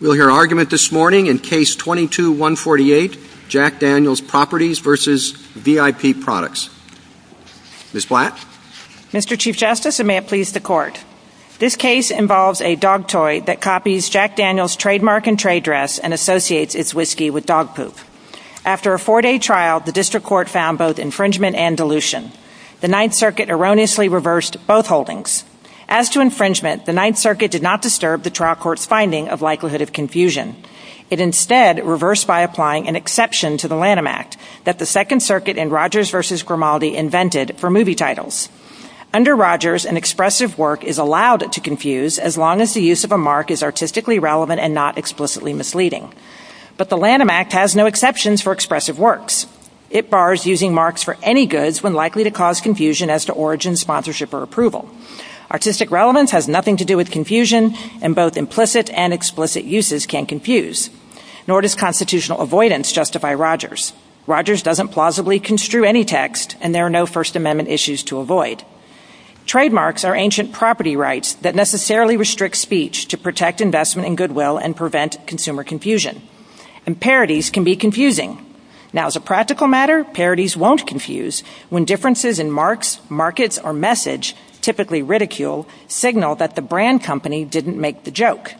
We'll hear argument this morning in Case 22-148, Jack Daniel's Properties v. VIP Products. Ms. Flatt? Mr. Chief Justice, and may it please the Court, this case involves a dog toy that copies Jack Daniel's trademark and trade dress and associates its whiskey with dog poop. After a four-day trial, the District Court found both infringement and dilution. The Ninth Circuit erroneously reversed both holdings. As to infringement, the Ninth Circuit did not disturb the trial court's finding of likelihood of confusion. It instead reversed by applying an exception to the Lanham Act that the Second Circuit in Rogers v. Grimaldi invented for movie titles. Under Rogers, an expressive work is allowed to confuse as long as the use of a mark is artistically relevant and not explicitly misleading. But the Lanham Act has no exceptions for expressive works. It bars using marks for any goods when likely to cause confusion as to origin, sponsorship, or approval. Artistic relevance has nothing to do with confusion, and both implicit and explicit uses can confuse. Nor does constitutional avoidance justify Rogers. Rogers doesn't plausibly construe any text, and there are no First Amendment issues to avoid. Trademarks are ancient property rights that necessarily restrict speech to protect investment and goodwill and prevent consumer confusion. And parodies can be confusing. Now as a practical matter, parodies won't confuse when differences in marks, markets, or message, typically ridicule, signal that the brand company didn't make the joke.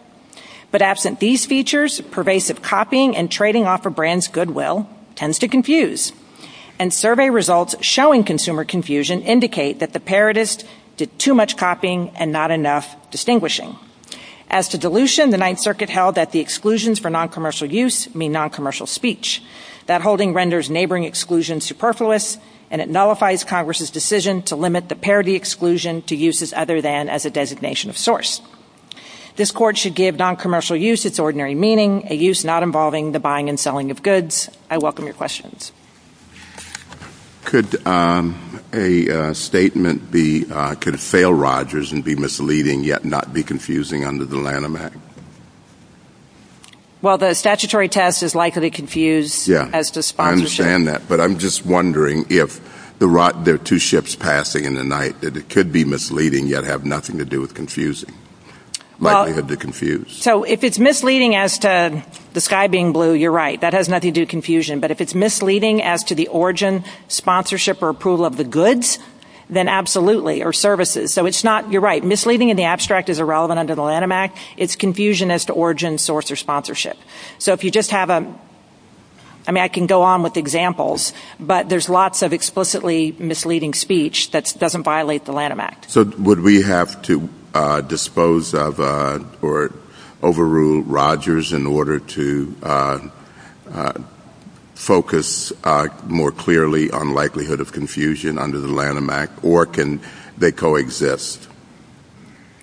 But absent these features, pervasive copying and trading off a brand's goodwill tends to confuse. And survey results showing consumer confusion indicate that the parodist did too much copying and not enough distinguishing. As to dilution, the Ninth Circuit held that the exclusions for noncommercial use mean noncommercial speech. That holding renders neighboring exclusions superfluous, and it nullifies Congress's decision to limit the parody exclusion to uses other than as a designation of source. This Court should give noncommercial use its ordinary meaning, a use not involving the buying and selling of goods. I welcome your questions. Could a statement be, could fail Rogers and be misleading yet not be confusing under the Lanham Act? Well, the statutory test is likely to confuse as to sponsorship. Yeah, I understand that. But I'm just wondering if there are two ships passing in the night, that it could be misleading yet have nothing to do with confusing. Well, so if it's misleading as to the sky being blue, you're right. That has nothing to do with confusion. But if it's misleading as to the origin, sponsorship, or approval of the goods, then absolutely, or services. So it's not, you're right, misleading in the abstract is irrelevant under the Lanham Act. It's confusion as to origin, source, or sponsorship. So if you just have a, I mean, I can go on with examples, but there's lots of explicitly misleading speech that doesn't violate the Lanham Act. So would we have to dispose of or overrule Rogers in order to focus more clearly on likelihood of confusion under the Lanham Act, or can they coexist?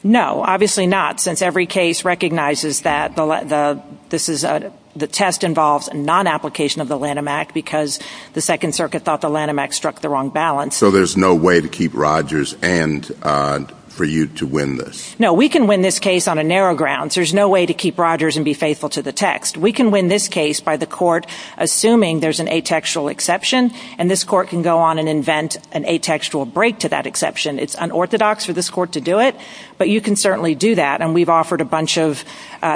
No, obviously not, since every case recognizes that the test involves a non-application of the Lanham Act because the Second Circuit thought the Lanham Act struck the wrong balance. So there's no way to keep Rogers and for you to win this? No, we can win this case on a narrow ground. There's no way to keep Rogers and be faithful to the text. We can win this case by the court assuming there's an atextual exception, and this court can go on and invent an atextual break to that exception. It's unorthodox for this court to do it, but you can certainly do that, and we've offered a bunch of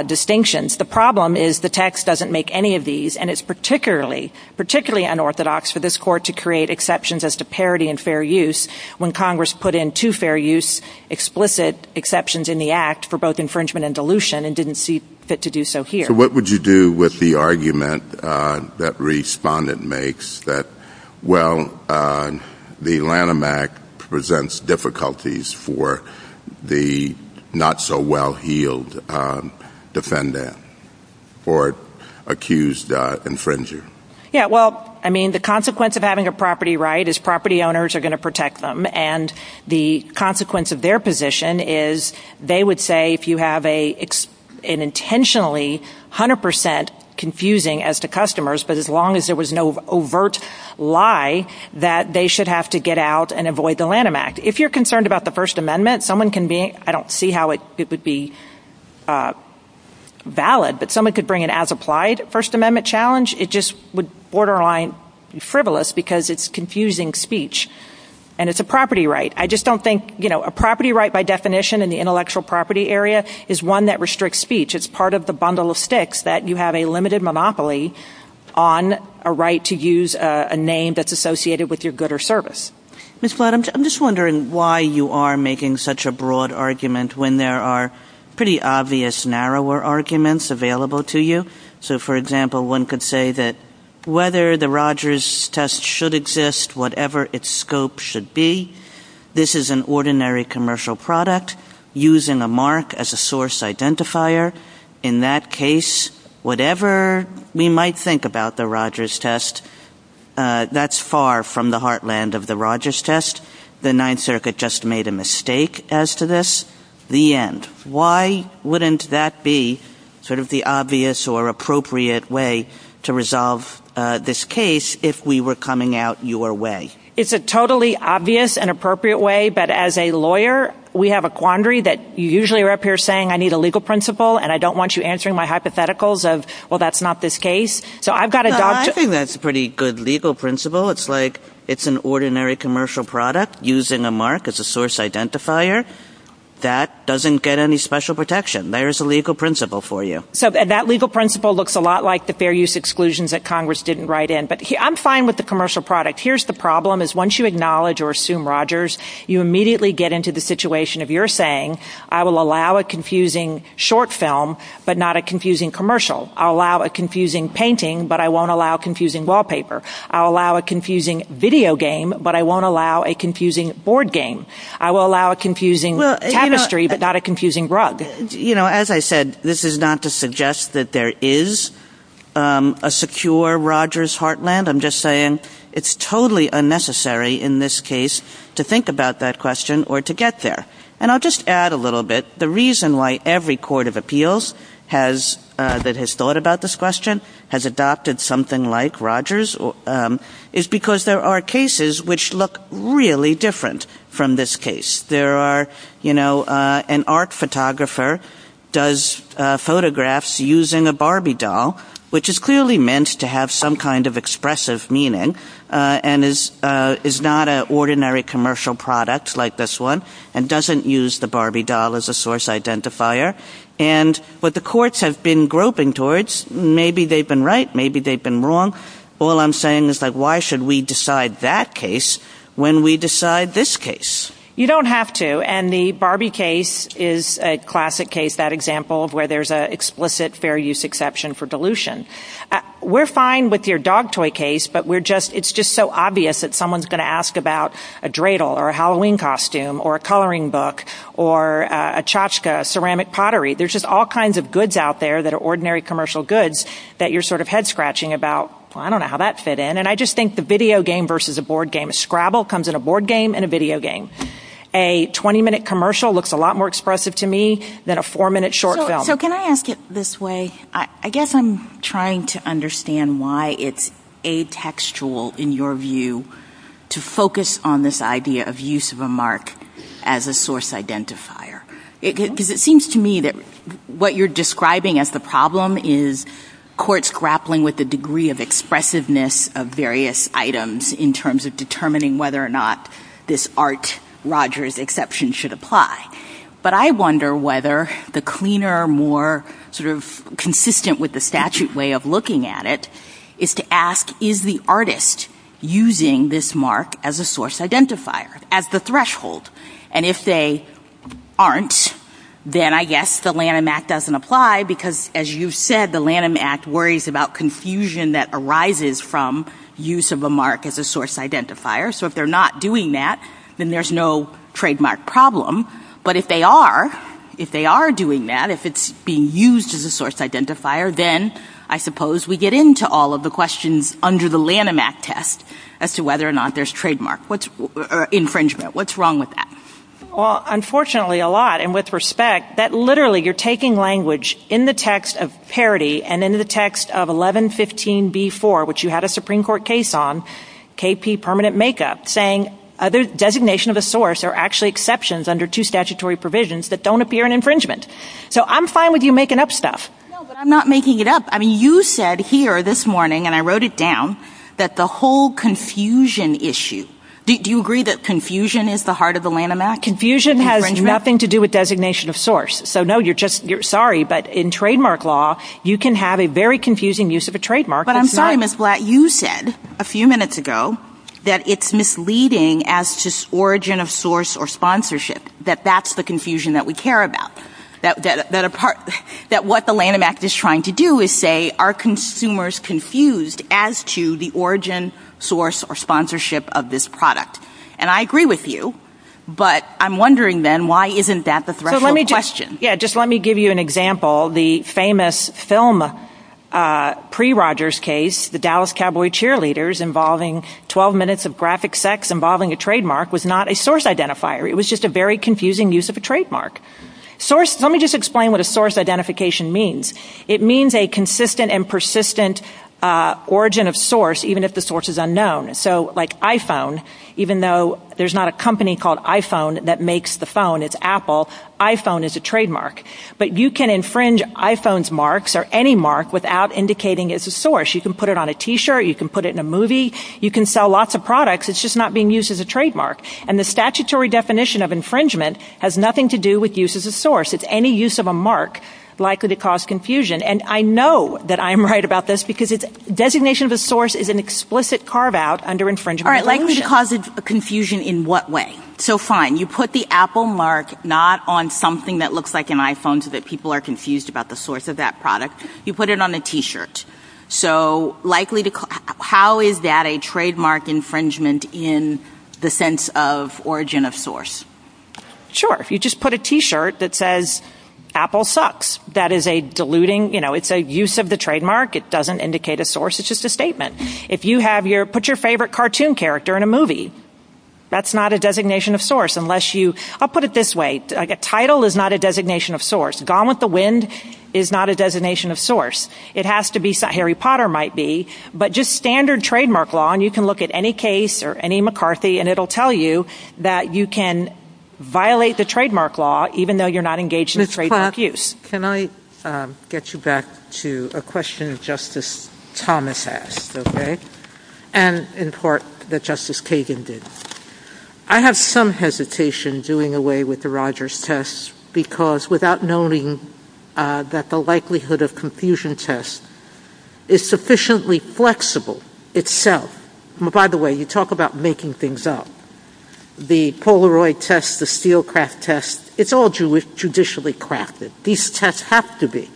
distinctions. The problem is the text doesn't make any of these, and it's particularly unorthodox for this court to create exceptions as to parity and fair use when Congress put in two fair use explicit exceptions in the Act for both infringement and dilution and didn't see fit to do so here. So what would you do with the argument that Respondent makes that, well, the Lanham Act presents difficulties for the not-so-well-healed defendant or accused infringer? Yeah, well, I mean, the consequence of having a property right is property owners are going to protect them, and the consequence of their position is they would say if you have an intentionally 100% confusing as to customers, but as long as there was no overt lie, that they should have to get out and avoid the Lanham Act. If you're concerned about the First Amendment, I don't see how it would be valid, but someone could bring an as-applied First Amendment challenge. It just would borderline frivolous because it's confusing speech, and it's a property right. I just don't think a property right by definition in the intellectual property area is one that restricts speech. It's part of the bundle of sticks that you have a limited monopoly on a right to use a name that's associated with your good or service. Ms. Flott, I'm just wondering why you are making such a broad argument when there are pretty obvious narrower arguments available to you. So, for example, one could say that whether the Rogers test should exist, whatever its scope should be, this is an ordinary commercial product using a mark as a source identifier. In that case, whatever we might think about the Rogers test, that's far from the heartland of the Rogers test. The Ninth Circuit just made a mistake as to this. The end. Why wouldn't that be sort of the obvious or appropriate way to resolve this case if we were coming out your way? It's a totally obvious and appropriate way, but as a lawyer, we have a quandary that you usually are up here saying, I need a legal principle, and I don't want you answering my hypotheticals of, well, that's not this case. I think that's a pretty good legal principle. It's like it's an ordinary commercial product using a mark as a source identifier. That doesn't get any special protection. There is a legal principle for you. That legal principle looks a lot like the fair use exclusions that Congress didn't write in, but I'm fine with the commercial product. Here's the problem. Once you acknowledge or assume Rogers, you immediately get into the situation of your saying, I will allow a confusing short film, but not a confusing commercial. I'll allow a confusing painting, but I won't allow a confusing wallpaper. I'll allow a confusing video game, but I won't allow a confusing board game. I will allow a confusing tapestry, but not a confusing rug. As I said, this is not to suggest that there is a secure Rogers heartland. I'm just saying it's totally unnecessary in this case to think about that question or to get there. And I'll just add a little bit. The reason why every court of appeals that has thought about this question has adopted something like Rogers is because there are cases which look really different from this case. There are, you know, an art photographer does photographs using a Barbie doll, which is clearly meant to have some kind of expressive meaning and is not an ordinary commercial product like this one and doesn't use the Barbie doll as a source identifier. But the courts have been groping towards, maybe they've been right, maybe they've been wrong. All I'm saying is like, why should we decide that case when we decide this case? You don't have to, and the Barbie case is a classic case, that example of where there's an explicit fair use exception for dilution. We're fine with your dog toy case, but it's just so obvious that someone's going to ask about a dreidel or a Halloween costume or a coloring book or a tchotchke, ceramic pottery. There's just all kinds of goods out there that are ordinary commercial goods that you're sort of head scratching about, well, I don't know how that fit in. And I just think the video game versus a board game. A Scrabble comes in a board game and a video game. A 20-minute commercial looks a lot more expressive to me than a four-minute short film. So can I ask it this way? I guess I'm trying to understand why it's atextual, in your view, to focus on this idea of use of a mark as a source identifier. Because it seems to me that what you're describing as the problem is the court's grappling with the degree of expressiveness of various items in terms of determining whether or not this Art Rogers exception should apply. But I wonder whether the cleaner, more sort of consistent with the statute way of looking at it is to ask, is the artist using this mark as a source identifier, as the threshold? And if they aren't, then I guess the Lanham Act doesn't apply, because as you said, the Lanham Act worries about confusion that arises from use of a mark as a source identifier. So if they're not doing that, then there's no trademark problem. But if they are doing that, if it's being used as a source identifier, then I suppose we get into all of the questions under the Lanham Act test as to whether or not there's infringement. What's wrong with that? Well, unfortunately a lot, and with respect, that literally you're taking language in the text of parity and in the text of 1115b4, which you had a Supreme Court case on, KP permanent makeup, saying designation of a source are actually exceptions under two statutory provisions that don't appear in infringement. So I'm fine with you making up stuff. No, but I'm not making it up. I mean, you said here this morning, and I wrote it down, that the whole confusion issue, do you agree that confusion is the heart of the Lanham Act? Confusion has nothing to do with designation of source. So no, you're sorry, but in trademark law, you can have a very confusing use of a trademark. But I'm sorry, Ms. Blatt, you said a few minutes ago that it's misleading as to origin of source or sponsorship, that that's the confusion that we care about, that what the Lanham Act is trying to do is say, are consumers confused as to the origin, source, or sponsorship of this product? And I agree with you, but I'm wondering then why isn't that the threshold question? Yeah, just let me give you an example. The famous film pre-Rogers case, the Dallas Cowboy Cheerleaders, involving 12 minutes of graphic sex involving a trademark, was not a source identifier. It was just a very confusing use of a trademark. Let me just explain what a source identification means. It means a consistent and persistent origin of source, even if the source is unknown. So like iPhone, even though there's not a company called iPhone that makes the phone, it's Apple, iPhone is a trademark. But you can infringe iPhone's marks or any mark without indicating it's a source. You can put it on a T-shirt. You can put it in a movie. You can sell lots of products. It's just not being used as a trademark. And the statutory definition of infringement has nothing to do with use as a source. It's any use of a mark likely to cause confusion. And I know that I'm right about this, because designation of a source is an explicit carve-out under infringement. All right, likely to cause confusion in what way? So fine, you put the Apple mark not on something that looks like an iPhone so that people are confused about the source of that product. You put it on a T-shirt. So how is that a trademark infringement in the sense of origin of source? Sure, if you just put a T-shirt that says Apple sucks, that is a diluting – it's a use of the trademark. It doesn't indicate a source. It's just a statement. If you have your – put your favorite cartoon character in a movie. That's not a designation of source unless you – I'll put it this way. A title is not a designation of source. Gone with the Wind is not a designation of source. It has to be – Harry Potter might be. But just standard trademark law, and you can look at any case or any McCarthy, and it will tell you that you can violate the trademark law even though you're not engaged in trademark use. Ms. Potts, can I get you back to a question Justice Thomas asked, okay, and in court that Justice Kagan did. I have some hesitation doing away with the Rogers test because without knowing that the likelihood of confusion test is sufficiently flexible itself – by the way, you talk about making things up. The Polaroid test, the steel craft test, it's all traditionally crafted. These tests have to be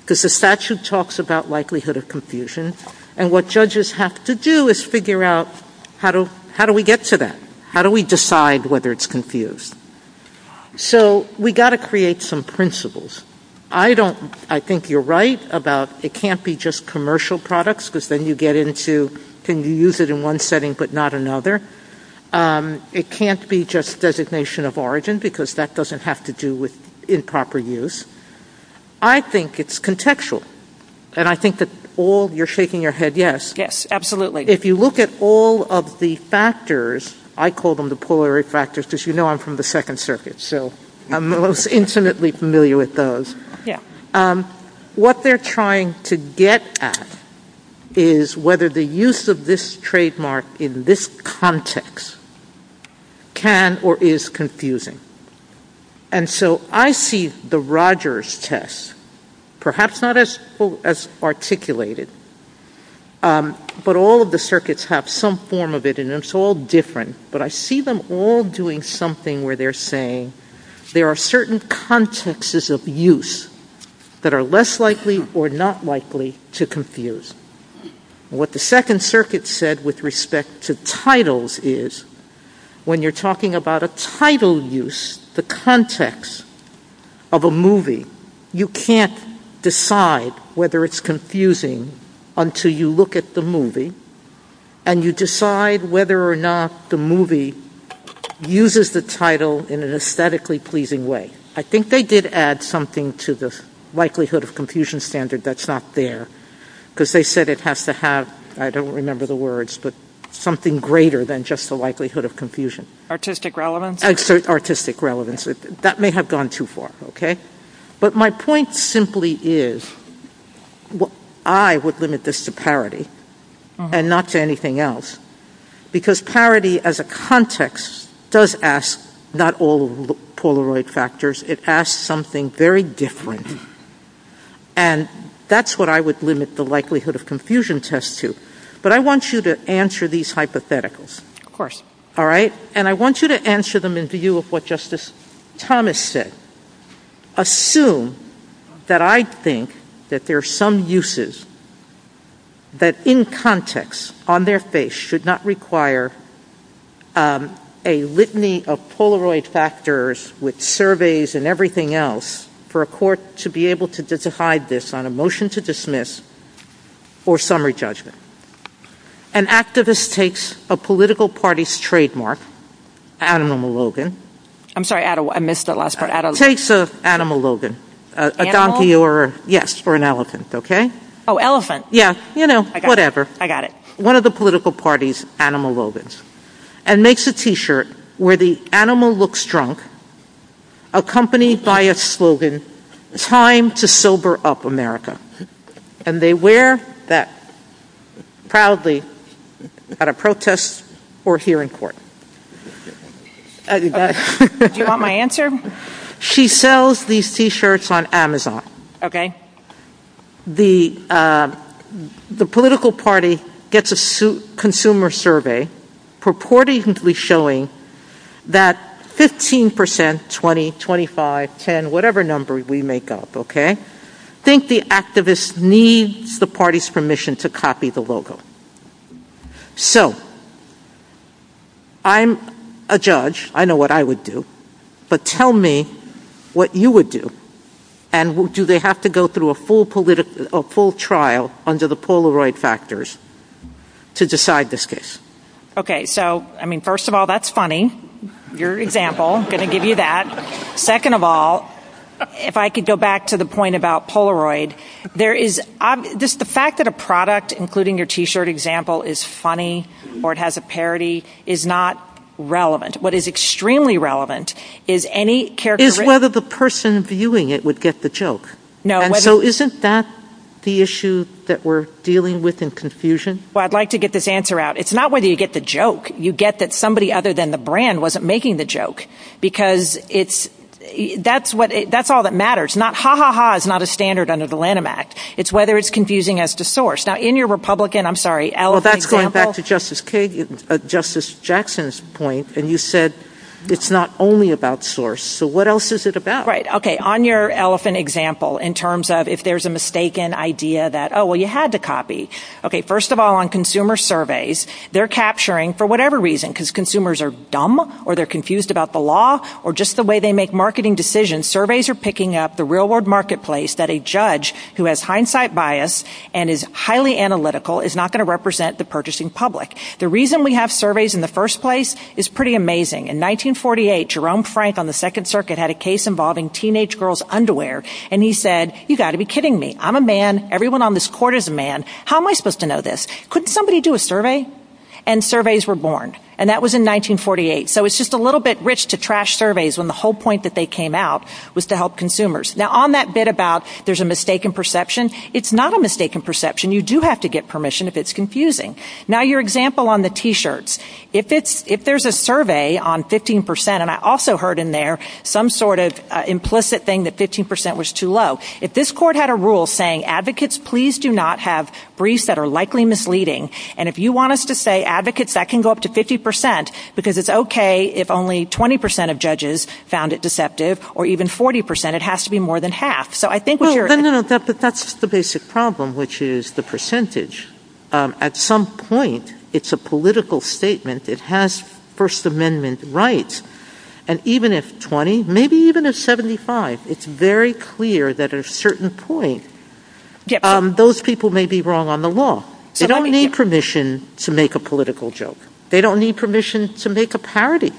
because the statute talks about likelihood of confusion, and what judges have to do is figure out how do we get to that? How do we decide whether it's confused? So we've got to create some principles. I don't – I think you're right about it can't be just commercial products because then you get into can you use it in one setting but not another. It can't be just designation of origin because that doesn't have to do with improper use. I think it's contextual, and I think that all – you're shaking your head yes. Yes, absolutely. If you look at all of the factors, I call them the Polaroid factors because you know I'm from the Second Circuit, so I'm most intimately familiar with those. What they're trying to get at is whether the use of this trademark in this context can or is confusing. And so I see the Rogers test, perhaps not as articulated, but all of the circuits have some form of it, and it's all different, but I see them all doing something where they're saying there are certain contexts of use that are less likely or not likely to confuse. What the Second Circuit said with respect to titles is when you're talking about a title use, the context of a movie, you can't decide whether it's confusing until you look at the movie, and you decide whether or not the movie uses the title in an aesthetically pleasing way. I think they did add something to the likelihood of confusion standard that's not there because they said it has to have – I don't remember the words – but something greater than just the likelihood of confusion. Artistic relevance? Artistic relevance. That may have gone too far, okay? But my point simply is I would limit this to parity and not to anything else because parity as a context does ask not all of the Polaroid factors. It asks something very different, and that's what I would limit the likelihood of confusion test to. But I want you to answer these hypotheticals, all right? And I want you to answer them in view of what Justice Thomas said. Assume that I think that there are some uses that in context on their face should not require a litany of Polaroid factors with surveys and everything else for a court to be able to decide this on a motion to dismiss or summary judgment. An activist takes a political party's trademark, Adam Logan – I'm sorry, I missed the last part. Takes an animal Logan, a donkey or an elephant, okay? Oh, elephant. Yes, you know, whatever. I got it. One of the political party's animal Logans and makes a T-shirt where the animal looks drunk accompanied by a slogan, Time to Sober Up America. And they wear that proudly at a protest or hearing court. Do you want my answer? She sells these T-shirts on Amazon. Okay. The political party gets a consumer survey purportedly showing that 15%, 20%, 25%, 10%, whatever number we make up, okay, think the activist needs the party's permission to copy the logo. So I'm a judge. I know what I would do. But tell me what you would do. And do they have to go through a full trial under the Polaroid factors to decide this case? Okay. So, I mean, first of all, that's funny, your example. I'm going to give you that. Second of all, if I could go back to the point about Polaroid, the fact that a product, including your T-shirt example, is funny or it has a parody is not relevant. What is extremely relevant is whether the person viewing it would get the joke. So isn't that the issue that we're dealing with in confusion? Well, I'd like to get this answer out. It's not whether you get the joke. You get that somebody other than the brand wasn't making the joke because that's all that matters. Ha, ha, ha is not a standard under the Lanham Act. It's whether it's confusing as to source. Now, in your Republican, I'm sorry, elephant example. Well, that's going back to Justice Jackson's point, and you said it's not only about source. So what else is it about? Right. Okay. On your elephant example, in terms of if there's a mistaken idea that, oh, well, you had to copy. Okay. First of all, on consumer surveys, they're capturing, for whatever reason, because consumers are dumb or they're confused about the law or just the way they make marketing decisions, when surveys are picking up the real-world marketplace that a judge who has hindsight bias and is highly analytical is not going to represent the purchasing public. The reason we have surveys in the first place is pretty amazing. In 1948, Jerome Frank on the Second Circuit had a case involving teenage girls' underwear, and he said, you've got to be kidding me. I'm a man. Everyone on this court is a man. How am I supposed to know this? Couldn't somebody do a survey? And surveys were born, and that was in 1948. So it's just a little bit rich to trash surveys when the whole point that they came out was to help consumers. Now, on that bit about there's a mistaken perception, it's not a mistaken perception. You do have to get permission if it's confusing. Now, your example on the T-shirts, if there's a survey on 15% and I also heard in there some sort of implicit thing that 15% was too low, if this court had a rule saying, advocates, please do not have briefs that are likely misleading, and if you want us to say, advocates, that can go up to 50%, because it's okay if only 20% of judges found it deceptive, or even 40%. It has to be more than half. So I think what you're – No, no, no. That's the basic problem, which is the percentage. At some point, it's a political statement. It has First Amendment rights. And even if 20%, maybe even if 75%, it's very clear that at a certain point, those people may be wrong on the law. They don't need permission to make a political joke. They don't need permission to make a parody.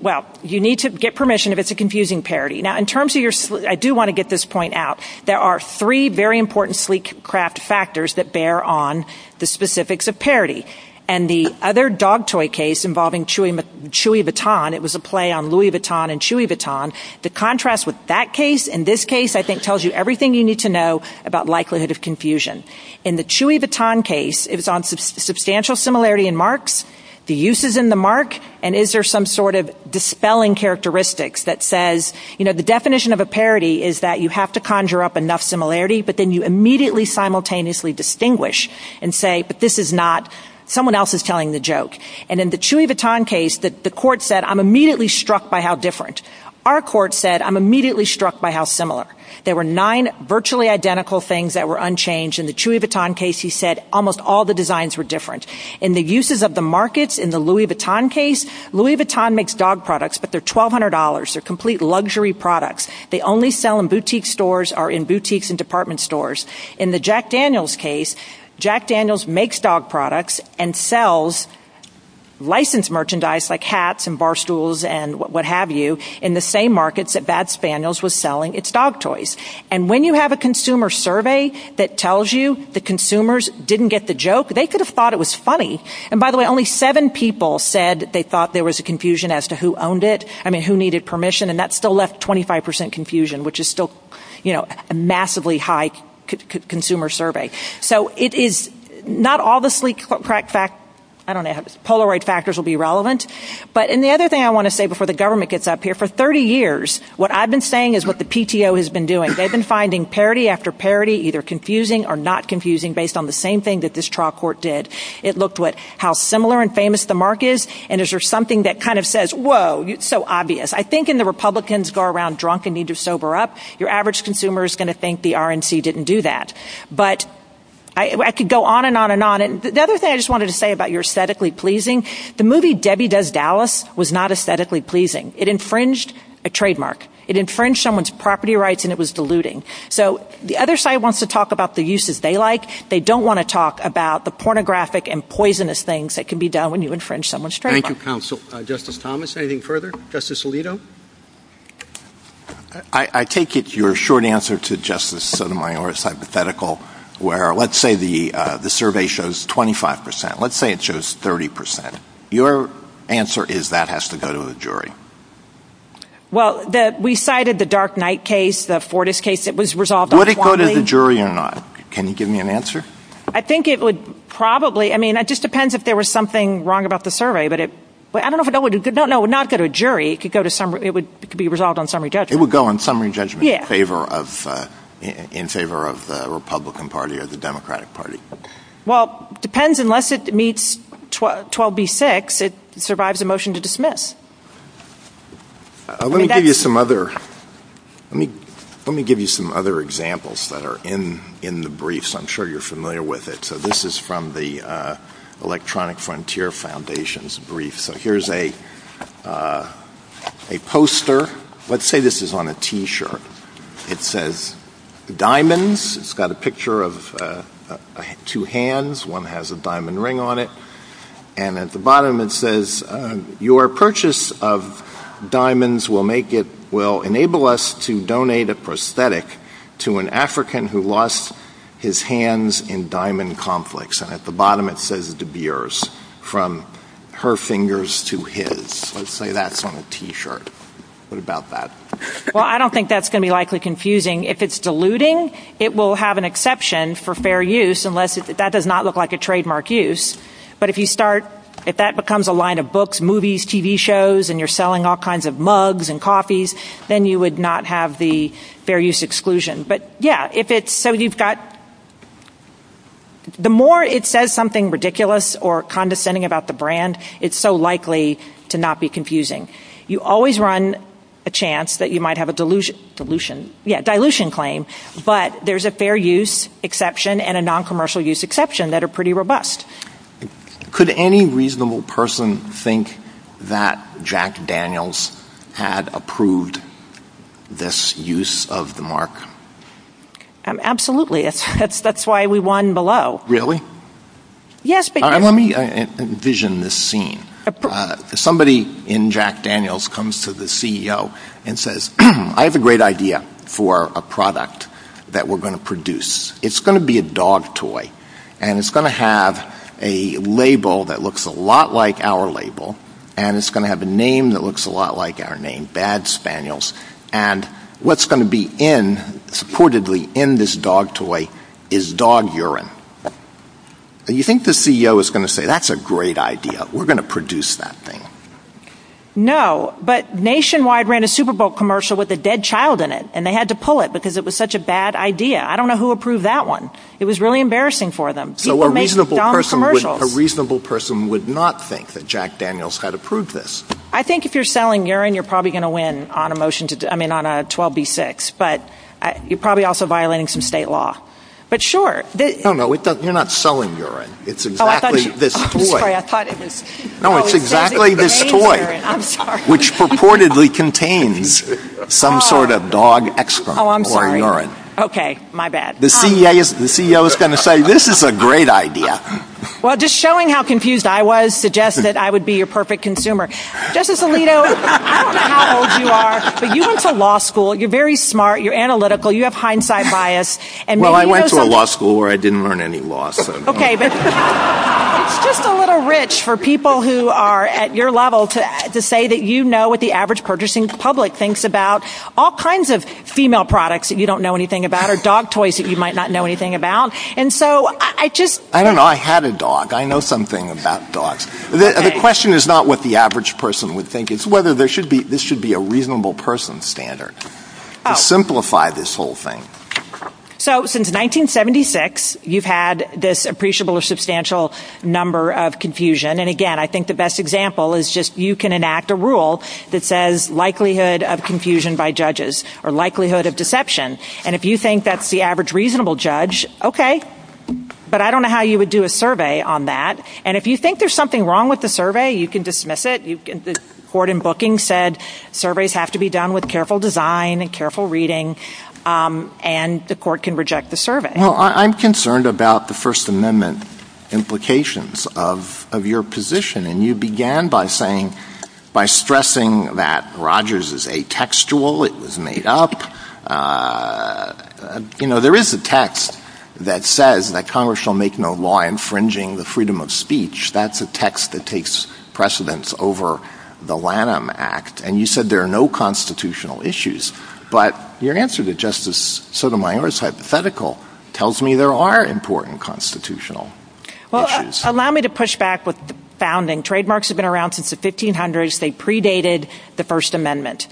Well, you need to get permission if it's a confusing parody. Now, in terms of your – I do want to get this point out. There are three very important sleek craft factors that bear on the specifics of parody. And the other dog toy case involving Chewy Baton, it was a play on Louis Vuitton and Chewy Vuitton. The contrast with that case and this case, I think, tells you everything you need to know about likelihood of confusion. In the Chewy Baton case, it was on substantial similarity in marks, the uses in the mark, and is there some sort of dispelling characteristics that says, you know, the definition of a parody is that you have to conjure up enough similarity, but then you immediately simultaneously distinguish and say, but this is not – someone else is telling the joke. And in the Chewy Baton case, the court said, I'm immediately struck by how different. Our court said, I'm immediately struck by how similar. There were nine virtually identical things that were unchanged. In the Chewy Baton case, he said almost all the designs were different. In the uses of the markets, in the Louis Vuitton case, Louis Vuitton makes dog products, but they're $1,200. They're complete luxury products. They only sell in boutique stores or in boutiques and department stores. In the Jack Daniels case, Jack Daniels makes dog products and sells licensed merchandise like hats and bar stools and what have you in the same markets that Bad Spaniels was selling. It's dog toys. And when you have a consumer survey that tells you the consumers didn't get the joke, they could have thought it was funny. And, by the way, only seven people said they thought there was a confusion as to who owned it, I mean, who needed permission, and that still left 25% confusion, which is still, you know, a massively high consumer survey. So it is not obviously – I don't know. Polaroid factors will be relevant. But the other thing I want to say before the government gets up here, for 30 years what I've been saying is what the PTO has been doing. They've been finding parody after parody, either confusing or not confusing, based on the same thing that this trial court did. It looked at how similar and famous the market is, and is there something that kind of says, whoa, it's so obvious. I think when the Republicans go around drunk and need to sober up, your average consumer is going to think the RNC didn't do that. But I could go on and on and on. The other thing I just wanted to say about your aesthetically pleasing, the movie Debbie Does Dallas was not aesthetically pleasing. It infringed a trademark. It infringed someone's property rights, and it was deluding. So the other side wants to talk about the uses they like. They don't want to talk about the pornographic and poisonous things that can be done when you infringe someone's trademark. Thank you, counsel. Justice Thomas, anything further? Justice Alito? I take it you're short answer to Justice Sotomayor is hypothetical, where let's say the survey shows 25%. Let's say it shows 30%. Your answer is that has to go to a jury. Well, we cited the Dark Knight case, the Fortas case that was resolved on 20. Would it go to the jury or not? Can you give me an answer? I think it would probably. I mean, it just depends if there was something wrong about the survey. But I don't know if it would. No, it would not go to a jury. It would be resolved on summary judgment. It would go on summary judgment in favor of the Republican Party or the Democratic Party. Well, it depends. Unless it meets 12B6, it survives a motion to dismiss. Let me give you some other examples that are in the briefs. I'm sure you're familiar with it. So this is from the Electronic Frontier Foundation's brief. So here's a poster. Let's say this is on a T-shirt. It says diamonds. It's got a picture of two hands. One has a diamond ring on it. And at the bottom it says, your purchase of diamonds will enable us to donate a prosthetic to an African who lost his hands in diamond conflicts. And at the bottom it says De Beers, from her fingers to his. Let's say that's on a T-shirt. What about that? Well, I don't think that's going to be likely confusing. If it's diluting, it will have an exception for fair use, unless that does not look like a trademark use. But if that becomes a line of books, movies, TV shows, and you're selling all kinds of mugs and coffees, then you would not have the fair use exclusion. But yeah, so you've got... The more it says something ridiculous or condescending about the brand, it's so likely to not be confusing. You always run a chance that you might have a dilution claim. But there's a fair use exception and a non-commercial use exception that are pretty robust. Could any reasonable person think that Jack Daniels had approved this use of the mark? Absolutely. That's why we won below. Really? Yes. Let me envision this scene. Somebody in Jack Daniels comes to the CEO and says, I have a great idea for a product that we're going to produce. It's going to be a dog toy. And it's going to have a label that looks a lot like our label. And it's going to have a name that looks a lot like our name, Bad Spaniels. And what's going to be in, supportedly, in this dog toy is dog urine. You think the CEO is going to say, that's a great idea. We're going to produce that thing. No, but Nationwide ran a Super Bowl commercial with a dead child in it. And they had to pull it because it was such a bad idea. I don't know who approved that one. It was really embarrassing for them. A reasonable person would not think that Jack Daniels had approved this. I think if you're selling urine, you're probably going to win on a 12B6. But you're probably also violating some state law. No, no, you're not selling urine. It's exactly this toy. No, it's exactly this toy, which purportedly contains some sort of dog excrement or urine. Okay, my bad. The CEO is going to say, this is a great idea. Well, just showing how confused I was suggests that I would be your perfect consumer. Justice Alito, I don't know how old you are, but you went to law school. You're very smart. You're analytical. You have hindsight bias. Well, I went to a law school where I didn't learn any law. Okay, that's just a little rich for people who are at your level to say that you know what the average purchasing public thinks about all kinds of female products that you don't know anything about or dog toys that you might not know anything about. I don't know. I had a dog. I know something about dogs. The question is not what the average person would think. It's whether this should be a reasonable person standard to simplify this whole thing. So since 1976, you've had this appreciable or substantial number of confusion. And, again, I think the best example is just you can enact a rule that says likelihood of confusion by judges or likelihood of deception. And if you think that's the average reasonable judge, okay. But I don't know how you would do a survey on that. And if you think there's something wrong with the survey, you can dismiss it. The court in booking said surveys have to be done with careful design and careful reading. And the court can reject the survey. Well, I'm concerned about the First Amendment implications of your position. And you began by stressing that Rogers is atextual. It was made up. You know, there is a text that says that Congress shall make no law infringing the freedom of speech. That's a text that takes precedence over the Lanham Act. And you said there are no constitutional issues. But your answer to Justice Sotomayor's hypothetical tells me there are important constitutional issues. Well, allow me to push back with the founding. Trademarks have been around since the 1500s. They predated the First Amendment.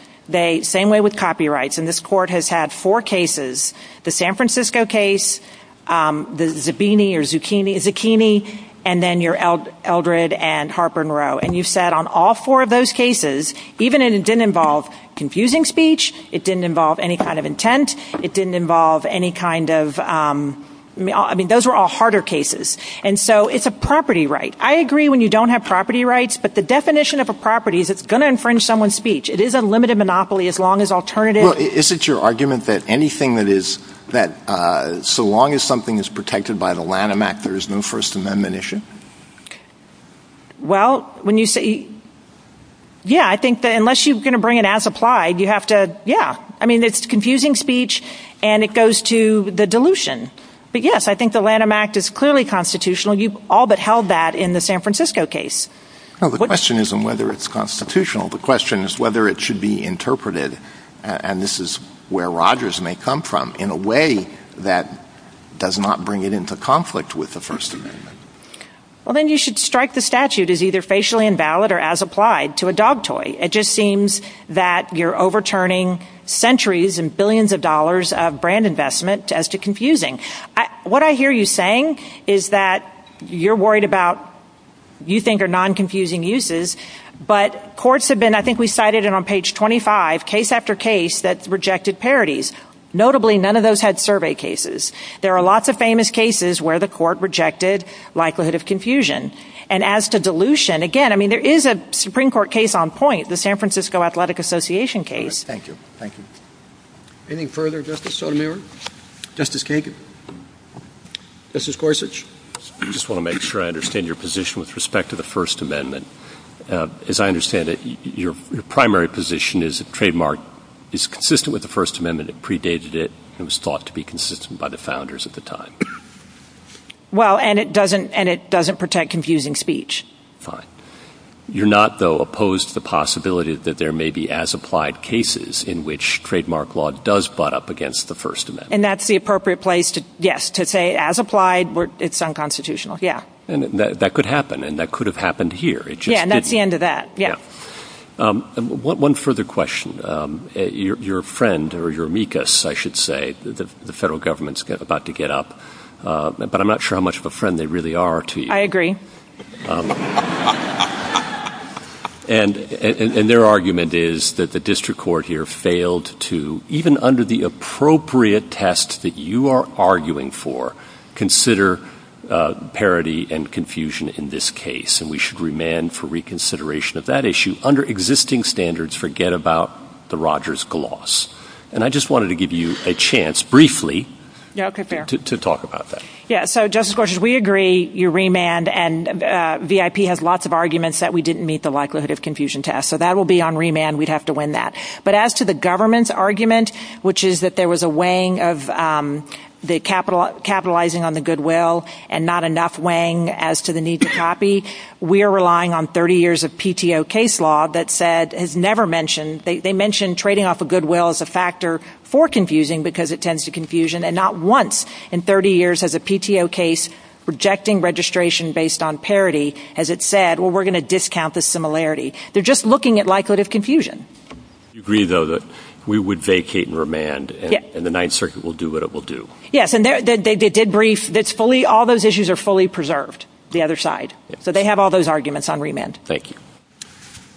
Same way with copyrights. And this court has had four cases, the San Francisco case, the Zabini or Zucchini, and then your Eldred and Harper and Rowe. And you've said on all four of those cases, even if it didn't involve confusing speech, it didn't involve any kind of intent, it didn't involve any kind of, I mean, those were all harder cases. And so it's a property right. I agree when you don't have property rights. But the definition of a property is it's going to infringe someone's speech. It is a limited monopoly as long as alternative. Well, is it your argument that anything that is, that so long as something is protected by the Lanham Act, there is no First Amendment issue? Well, when you say, yeah, I think that unless you're going to bring it as applied, you have to, yeah. I mean, it's confusing speech and it goes to the dilution. But, yes, I think the Lanham Act is clearly constitutional. You've all but held that in the San Francisco case. The question isn't whether it's constitutional. The question is whether it should be interpreted, and this is where Rogers may come from, in a way that does not bring it into conflict with the First Amendment. Well, then you should strike the statute as either facially invalid or as applied to a dog toy. It just seems that you're overturning centuries and billions of dollars of brand investment as to confusing. What I hear you saying is that you're worried about you think are non-confusing uses, but courts have been, I think we cited it on page 25, case after case that rejected parodies. Notably, none of those had survey cases. There are lots of famous cases where the court rejected likelihood of confusion. And as to dilution, again, I mean, there is a Supreme Court case on point, the San Francisco Athletic Association case. Thank you. Thank you. Any further Justice Sotomayor? Justice Kagan? Justice Gorsuch? I just want to make sure I understand your position with respect to the First Amendment. As I understand it, your primary position is that the trademark is consistent with the First Amendment. It predated it and was thought to be consistent by the founders at the time. Well, and it doesn't protect confusing speech. Fine. You're not, though, opposed to the possibility that there may be as-applied cases in which trademark law does butt up against the First Amendment. And that's the appropriate place to, yes, to say as-applied, it's unconstitutional. Yeah. And that could happen, and that could have happened here. Yeah, and that's the end of that. Yeah. One further question. Your friend, or your amicus, I should say, the federal government's about to get up, but I'm not sure how much of a friend they really are to you. I agree. And their argument is that the district court here failed to, even under the appropriate test that you are arguing for, consider parity and confusion in this case. And we should remand for reconsideration of that issue. Under existing standards, forget about the Rogers gloss. And I just wanted to give you a chance, briefly, to talk about that. Yeah, so, Justice Gorsuch, we agree you remand, and VIP has lots of arguments that we didn't meet the likelihood of confusion test. So that will be on remand. We'd have to win that. But as to the government's argument, which is that there was a weighing of the capitalizing on the goodwill and not enough weighing as to the need to copy, we are relying on 30 years of PTO case law that said, has never mentioned, they mentioned trading off a goodwill as a factor for confusing because it tends to confusion, and not once in 30 years has a PTO case rejecting registration based on parity as it said, well, we're going to discount the similarity. They're just looking at likelihood of confusion. You agree, though, that we would vacate and remand, and the Ninth Circuit will do what it will do. Yes, and they did brief. All those issues are fully preserved, the other side. So they have all those arguments on remand. Thank you.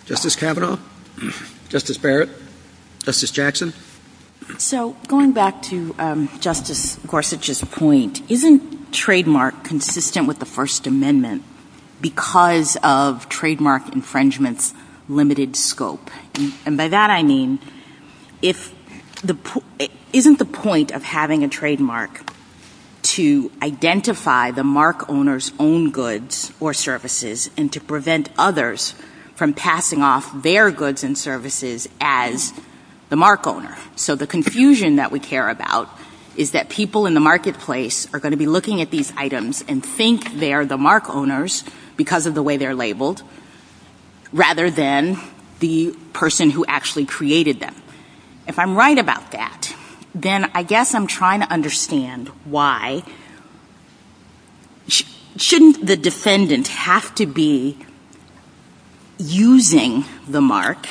Justice Kavanaugh? Justice Barrett? Justice Jackson? So going back to Justice Gorsuch's point, isn't trademark consistent with the First Amendment because of trademark infringement's limited scope? And by that I mean, isn't the point of having a trademark to identify the mark owner's own goods or services and to prevent others from passing off their goods and services as the mark owner? So the confusion that we care about is that people in the marketplace are going to be looking at these items and think they're the mark owners because of the way they're labeled, rather than the person who actually created them. If I'm right about that, then I guess I'm trying to understand why shouldn't the defendant have to be using the mark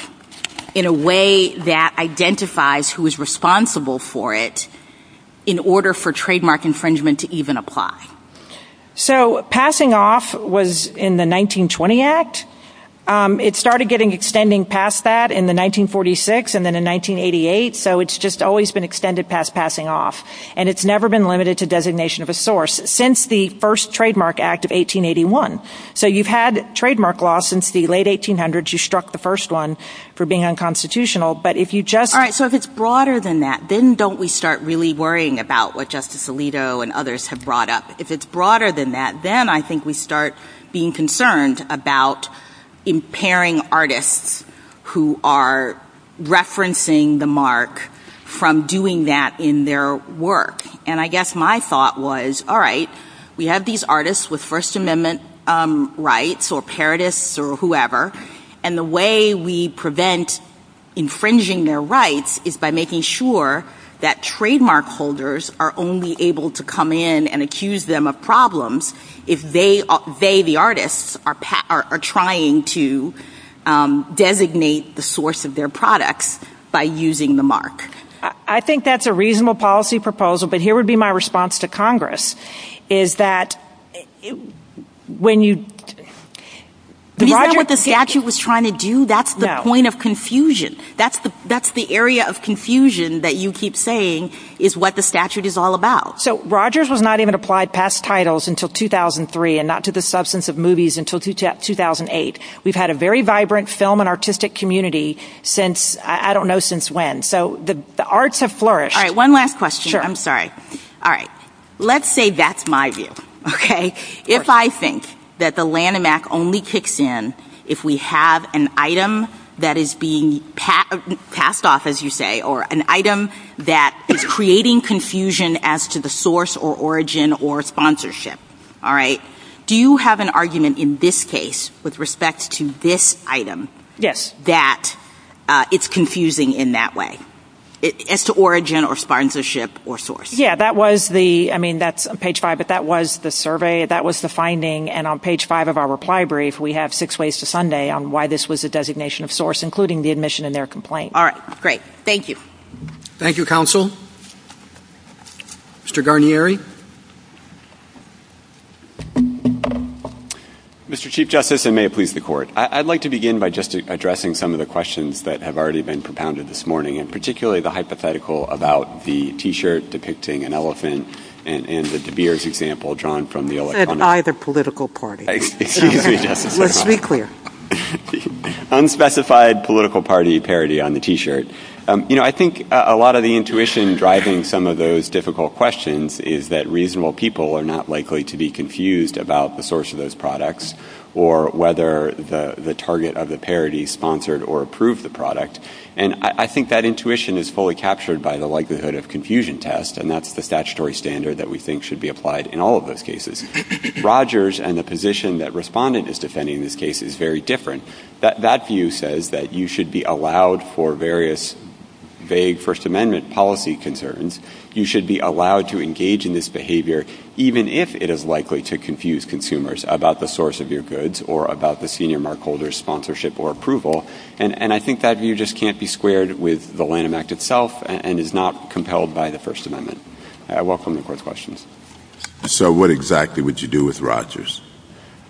in a way that identifies who is responsible for it in order for trademark infringement to even apply? So passing off was in the 1920 Act. It started getting extended past that in the 1946 and then in 1988, so it's just always been extended past passing off. And it's never been limited to designation of a source since the first Trademark Act of 1881. So you've had trademark law since the late 1800s. You struck the first one for being unconstitutional. All right, so if it's broader than that, then don't we start really worrying about what Justice Alito and others have brought up? If it's broader than that, then I think we start being concerned about impairing artists who are referencing the mark from doing that in their work. And I guess my thought was, all right, we have these artists with First Amendment rights or parodists or whoever. And the way we prevent infringing their rights is by making sure that trademark holders are only able to come in and accuse them of problems if they, the artists, are trying to designate the source of their products by using the mark. I think that's a reasonable policy proposal, but here would be my response to Congress, is that when you... Do you know what the statute was trying to do? That's the point of confusion. That's the area of confusion that you keep saying is what the statute is all about. So Rogers was not even applied past titles until 2003 and not to the substance of movies until 2008. We've had a very vibrant film and artistic community since, I don't know since when. So the arts have flourished. All right, one last question. I'm sorry. All right. Let's say that's my view, okay? If I think that the Lanham Act only kicks in if we have an item that is being passed off, as you say, or an item that is creating confusion as to the source or origin or sponsorship, all right, do you have an argument in this case with respect to this item that it's confusing in that way? As to origin or sponsorship or source. Yeah, that was the... I mean, that's on page five, but that was the survey. That was the finding, and on page five of our reply brief, we have six ways to Sunday on why this was a designation of source, including the admission in their complaint. All right, great. Thank you. Thank you, Counsel. Mr. Garnieri? Mr. Chief Justice, and may it please the Court. I'd like to begin by just addressing some of the questions that have already been propounded this morning, and particularly the hypothetical about the T-shirt depicting an elephant and the De Beers example drawn from the... That's either political party. Let's be clear. Unspecified political party parody on the T-shirt. You know, I think a lot of the intuition driving some of those difficult questions is that reasonable people are not likely to be confused about the source of those products or whether the target of the parody sponsored or approved the product, and I think that intuition is fully captured by the likelihood of confusion test, and that's the statutory standard that we think should be applied in all of those cases. Rogers and the position that Respondent is defending in this case is very different. That view says that you should be allowed for various vague First Amendment policy concerns. You should be allowed to engage in this behavior, even if it is likely to confuse consumers about the source of your goods or about the senior markholder's sponsorship or approval, and I think that view just can't be squared with the Lamb Act itself and is not compelled by the First Amendment. I welcome the Court's questions. So what exactly would you do with Rogers?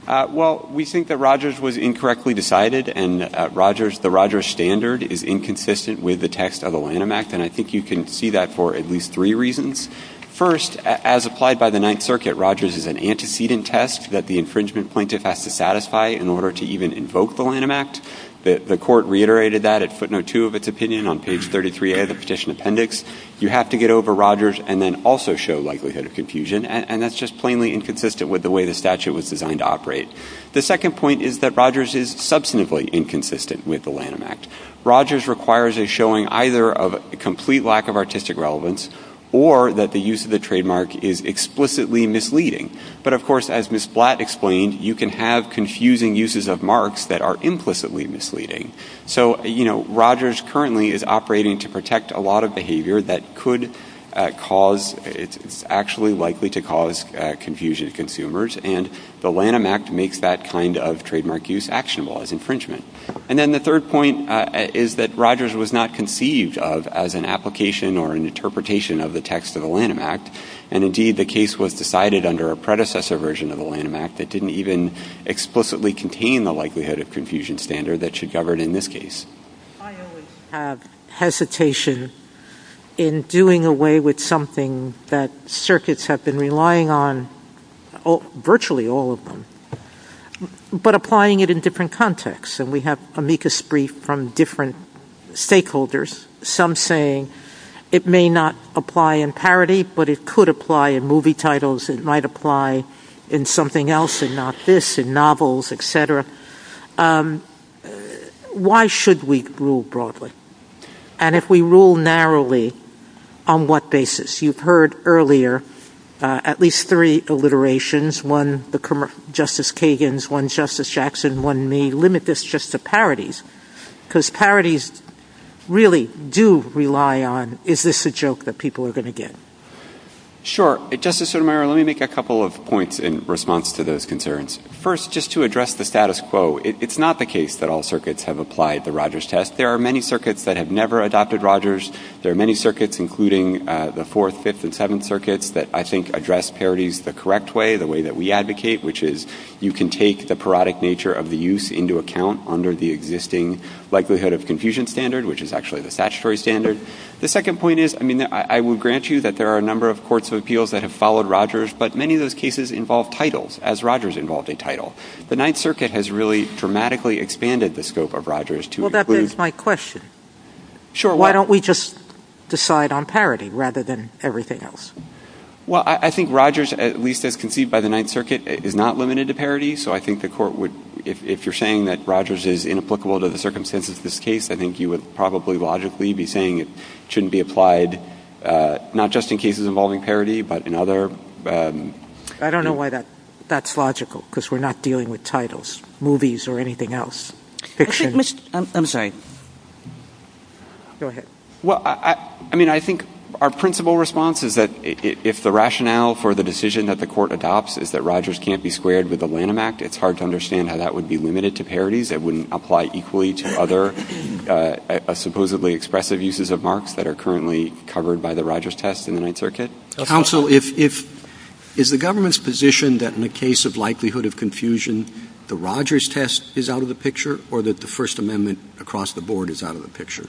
Well, we think that Rogers was incorrectly decided and Rogers. The Rogers standard is inconsistent with the text of the Lamb Act, and I think you can see that for at least three reasons. First, as applied by the Ninth Circuit, Rogers is an antecedent test that the infringement plaintiff has to satisfy in order to even invoke the Lamb Act. The court reiterated that it put no two of its opinion on page 33 of the petition appendix. You have to get over Rogers and then also show likelihood of confusion, and that's just plainly inconsistent with the way the statute was designed to operate. The second point is that Rogers is substantively inconsistent with the Lamb Act. Rogers requires a showing either of a complete lack of artistic relevance or that the use of the trademark is explicitly misleading. But, of course, as Ms. Blatt explained, you can have confusing uses of marks that are implicitly misleading. So, you know, Rogers currently is operating to protect a lot of behavior that could cause, is actually likely to cause confusion to consumers, and the Lamb Act makes that kind of trademark use actionable as infringement. And then the third point is that Rogers was not conceived of as an application or an interpretation of the text of the Lamb Act, and indeed the case was decided under a predecessor version of the Lamb Act that didn't even explicitly contain the likelihood of confusion standard that should govern in this case. I always have hesitation in doing away with something that circuits have been relying on, virtually all of them, but applying it in different contexts. And we have amicus brief from different stakeholders, some saying it may not apply in parody, but it could apply in movie titles, it might apply in something else and not this, in novels, etc. Why should we rule broadly? And if we rule narrowly, on what basis? You've heard earlier at least three alliterations, one Justice Kagan's, one Justice Jackson, one me, limit this just to parodies, because parodies really do rely on, is this a joke that people are going to get? Sure. Justice Sotomayor, let me make a couple of points in response to those concerns. First, just to address the status quo, it's not the case that all circuits have applied the Rogers test. There are many circuits that have never adopted Rogers. There are many circuits, including the Fourth, Fifth, and Seventh Circuits, that I think address parodies the correct way, the way that we advocate, which is you can take the parodic nature of the use into account under the existing likelihood of confusion standard, which is actually the statutory standard. The second point is, I mean, I would grant you that there are a number of courts of appeals that have followed Rogers, but many of those cases involve titles, as Rogers involved in title. The Ninth Circuit has really dramatically expanded the scope of Rogers to include... Well, that begs my question. Sure. Why don't we just decide on parody rather than everything else? Well, I think Rogers, at least as conceived by the Ninth Circuit, is not limited to parody, so I think the court would, if you're saying that Rogers is inapplicable to the circumstances of this case, I think you would probably logically be saying it shouldn't be applied not just in cases involving parody, but in other... I don't know why that's logical, because we're not dealing with titles, movies or anything else, fiction. I'm sorry. Go ahead. Well, I mean, I think our principal response is that if the rationale for the decision that the court adopts is that Rogers can't be squared with the Lanham Act, it's hard to understand how that would be limited to parodies. It wouldn't apply equally to other supposedly expressive uses of marks that are currently covered by the Rogers test in the Ninth Circuit. Counsel, is the government's position that in the case of likelihood of confusion, the Rogers test is out of the picture, or that the First Amendment across the board is out of the picture?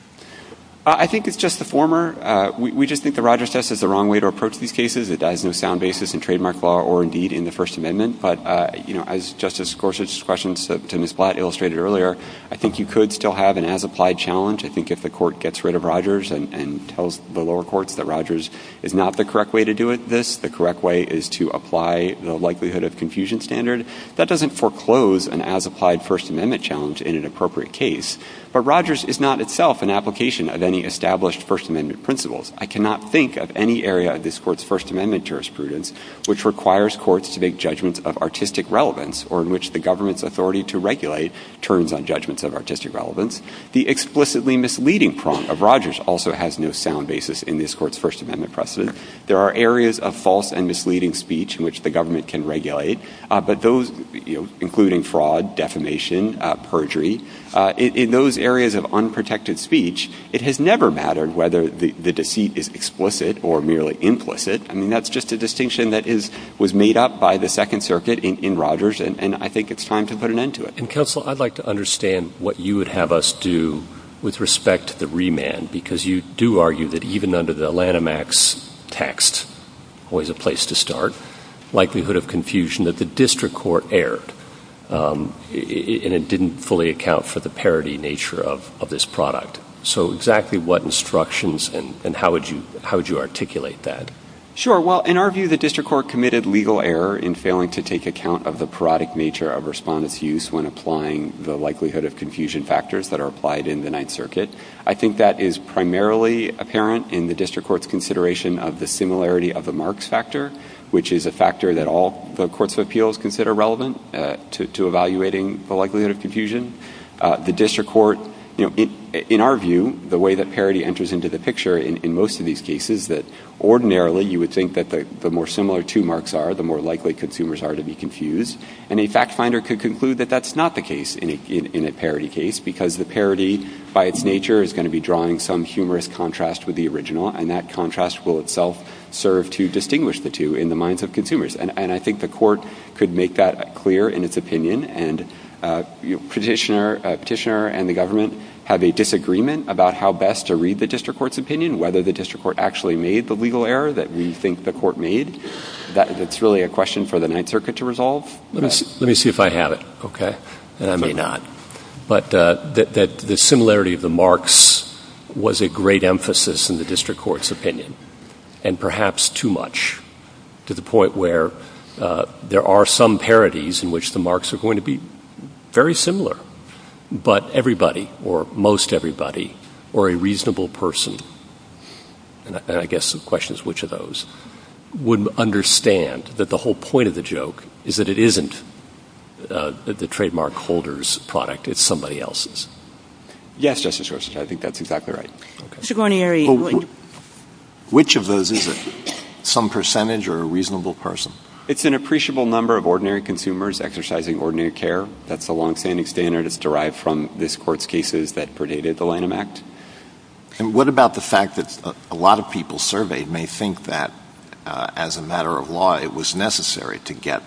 I think it's just the former. We just think the Rogers test is the wrong way to approach these cases. It dies in a sound basis in trademark law or, indeed, in the First Amendment. But, you know, as Justice Gorsuch's questions to Ms. Blatt illustrated earlier, I think you could still have an as-applied challenge. I think if the court gets rid of Rogers and tells the lower courts that Rogers is not the correct way to do this, the correct way is to apply the likelihood of confusion standard, that doesn't foreclose an as-applied First Amendment challenge in an appropriate case. But Rogers is not itself an application of any established First Amendment principles. I cannot think of any area of this court's First Amendment jurisprudence which requires courts to make judgments of artistic relevance or in which the government's authority to regulate turns on judgments of artistic relevance. The explicitly misleading prong of Rogers also has no sound basis in this court's First Amendment precedent. There are areas of false and misleading speech in which the government can regulate, but those, you know, including fraud, defamation, perjury, in those areas of unprotected speech, it has never mattered whether the deceit is explicit or merely implicit. I mean, that's just a distinction that was made up by the Second Circuit in Rogers, and I think it's time to put an end to it. And, Counsel, I'd like to understand what you would have us do with respect to the remand, because you do argue that even under the Lanham Act's text, always a place to start, likelihood of confusion that the district court erred, and it didn't fully account for the parity nature of this product. So exactly what instructions and how would you articulate that? Sure. Well, in our view, the district court committed legal error in failing to take account of the parodic nature of respondent's use when applying the likelihood of confusion factors that are applied in the Ninth Circuit. I think that is primarily apparent in the district court's consideration of the similarity of the Marx factor, which is a factor that all the courts of appeals consider relevant to evaluating the likelihood of confusion. The district court, in our view, the way that parity enters into the picture in most of these cases, that ordinarily you would think that the more similar two Marx are, the more likely consumers are to be confused. And a fact finder could conclude that that's not the case in a parity case, because the parity by its nature is going to be drawing some humorous contrast with the original, and that contrast will itself serve to distinguish the two in the minds of consumers. And I think the court could make that clear in its opinion. And a petitioner and the government have a disagreement about how best to read the district court's opinion, whether the district court actually made the legal error that we think the court made. That's really a question for the Ninth Circuit to resolve. Let me see if I have it. Okay. And I may not. But the similarity of the Marx was a great emphasis in the district court's opinion, and perhaps too much to the point where there are some parities in which the Marx are going to be very similar, but everybody, or most everybody, or a reasonable person, and I guess the question is which of those, would understand that the whole point of the joke is that it isn't the trademark holder's product. It's somebody else's. Yes, Justice Gorsuch. I think that's exactly right. Mr. Guarnieri. Which of those is it, some percentage or a reasonable person? It's an appreciable number of ordinary consumers exercising ordinary care. That's a long-standing standard. It's derived from this Court's cases that predated the Lanham Act. And what about the fact that a lot of people surveyed may think that, as a matter of law, it was necessary to get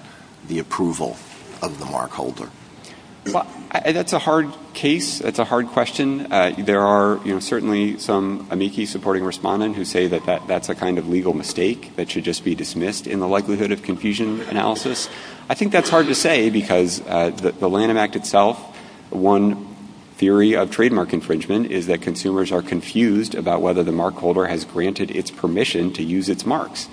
the approval of the Marx holder? That's a hard case. That's a hard question. There are certainly some amici supporting respondent who say that that's a kind of legal mistake that should just be dismissed in the likelihood of confusion analysis. I think that's hard to say because the Lanham Act itself, one theory of trademark infringement is that consumers are confused about whether the Marx holder has granted its permission to use its marks.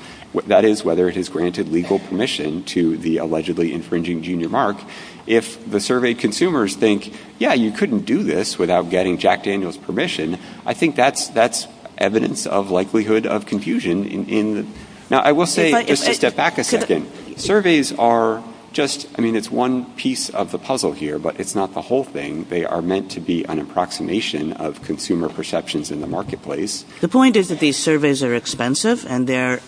That is, whether it has granted legal permission to the allegedly infringing junior Marx. If the surveyed consumers think, yeah, you couldn't do this without getting Jack Daniels' permission, I think that's evidence of likelihood of confusion. Now, I will say, just to step back a second, surveys are just, I mean, it's one piece of the puzzle here, but it's not the whole thing. They are meant to be an approximation of consumer perceptions in the marketplace. The point is that these surveys are expensive and they're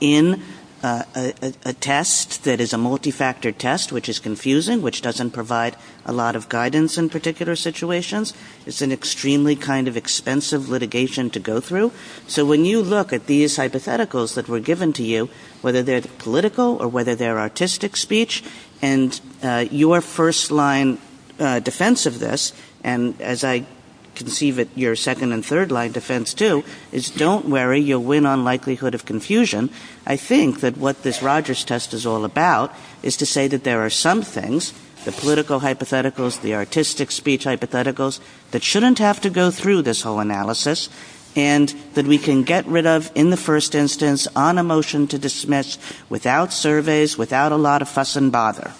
in a test that is a multifactor test, which is confusing, which doesn't provide a lot of guidance in particular situations. It's an extremely kind of expensive litigation to go through. So when you look at these hypotheticals that were given to you, whether they're political or whether they're artistic speech, and your first line defense of this, and as I can see that your second and third line defense too, is don't worry, you'll win on likelihood of confusion. I think that what this Rogers test is all about is to say that there are some things, the political hypotheticals, the artistic speech hypotheticals, that shouldn't have to go through this whole analysis. And that we can get rid of in the first instance on a motion to dismiss without surveys, without a lot of fuss and bother.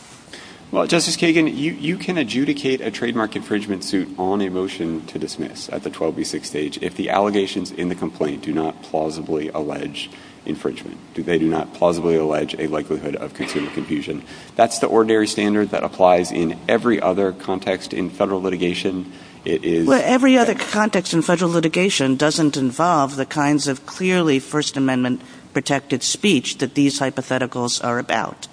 Well, Justice Kagan, you can adjudicate a trademark infringement suit on a motion to dismiss at the 12B6 stage if the allegations in the complaint do not plausibly allege infringement, if they do not plausibly allege a likelihood of consumer confusion. That's the ordinary standard that applies in every other context in federal litigation. Well, every other context in federal litigation doesn't involve the kinds of clearly First Amendment protected speech that these hypotheticals are about.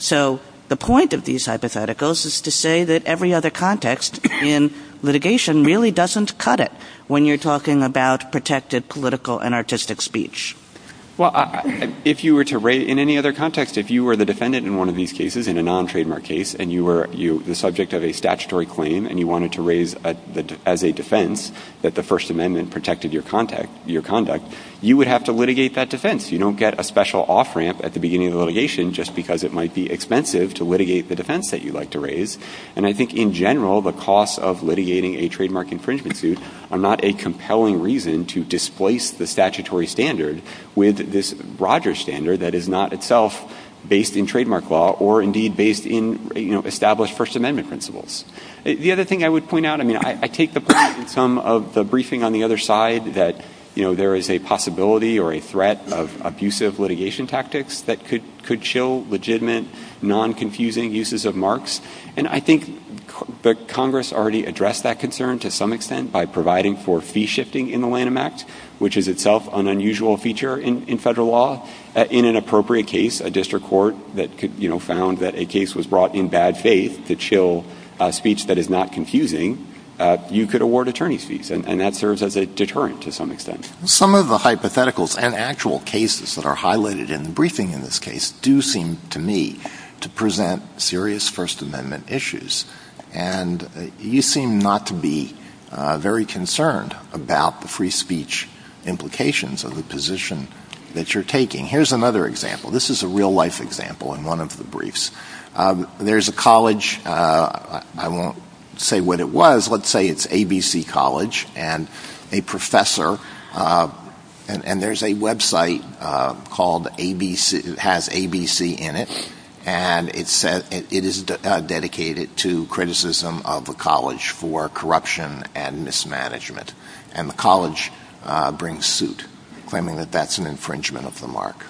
So the point of these hypotheticals is to say that every other context in litigation really doesn't cut it when you're talking about protected political and artistic speech. Well, in any other context, if you were the defendant in one of these cases, in a non-trademark case, and you were the subject of a statutory claim and you wanted to raise as a defense that the First Amendment protected your conduct, you would have to litigate that defense. You don't get a special off-ramp at the beginning of litigation just because it might be expensive to litigate the defense that you like to raise. And I think in general, the costs of litigating a trademark infringement suit are not a compelling reason to displace the statutory standard with this broader standard that is not itself based in trademark law or, indeed, based in established First Amendment principles. The other thing I would point out, I mean, I take the point in some of the briefing on the other side that there is a possibility or a threat of abusive litigation tactics that could chill legitimate, non-confusing uses of marks, and I think that Congress already addressed that concern to some extent by providing for fee shifting in the line of match, which is itself an unusual feature in federal law in an appropriate case, a district court that found that a case was brought in bad faith to chill speech that is not confusing, you could award attorney's fees, and that serves as a deterrent to some extent. Some of the hypotheticals and actual cases that are highlighted in the briefing in this case do seem to me to present serious First Amendment issues, and you seem not to be very concerned about the free speech implications of the position that you're taking. Here's another example. This is a real-life example in one of the briefs. There's a college. I won't say what it was. Let's say it's ABC College, and a professor, and there's a website called ABC, it has ABC in it, and it is dedicated to criticism of the college for corruption and mismanagement, and the college brings suit, claiming that that's an infringement of the mark.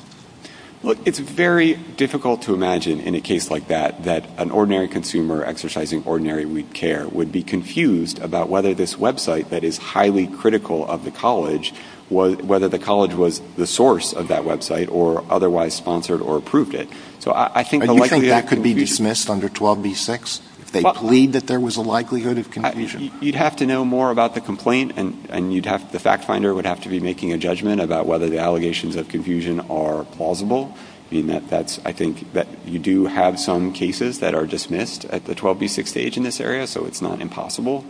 Look, it's very difficult to imagine in a case like that that an ordinary consumer exercising ordinary weak care would be confused about whether this website that is highly critical of the college, whether the college was the source of that website or otherwise sponsored or approved it. So I think the likelihood could be dismissed under 12b-6, if they plead that there was a likelihood of confusion. You'd have to know more about the complaint, and the fact finder would have to be making a judgment about whether the allegations of confusion are plausible. I think that you do have some cases that are dismissed at the 12b-6 stage in this area, so it's not impossible.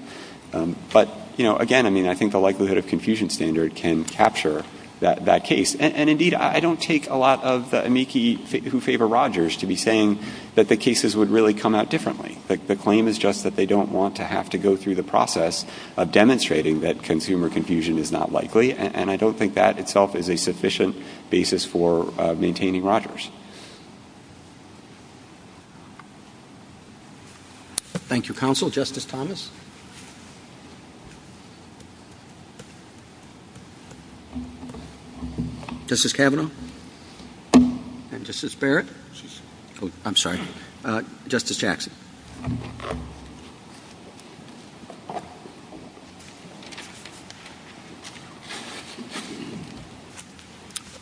But, again, I think the likelihood of confusion standard can capture that case. And, indeed, I don't take a lot of the amici who favor Rogers to be saying that the cases would really come out differently. The claim is just that they don't want to have to go through the process of demonstrating that consumer confusion is not likely, and I don't think that itself is a sufficient basis for maintaining Rogers. Thank you, Counsel. Justice Thomas? Justice Kavanaugh? And Justice Barrett? I'm sorry. Justice Jackson?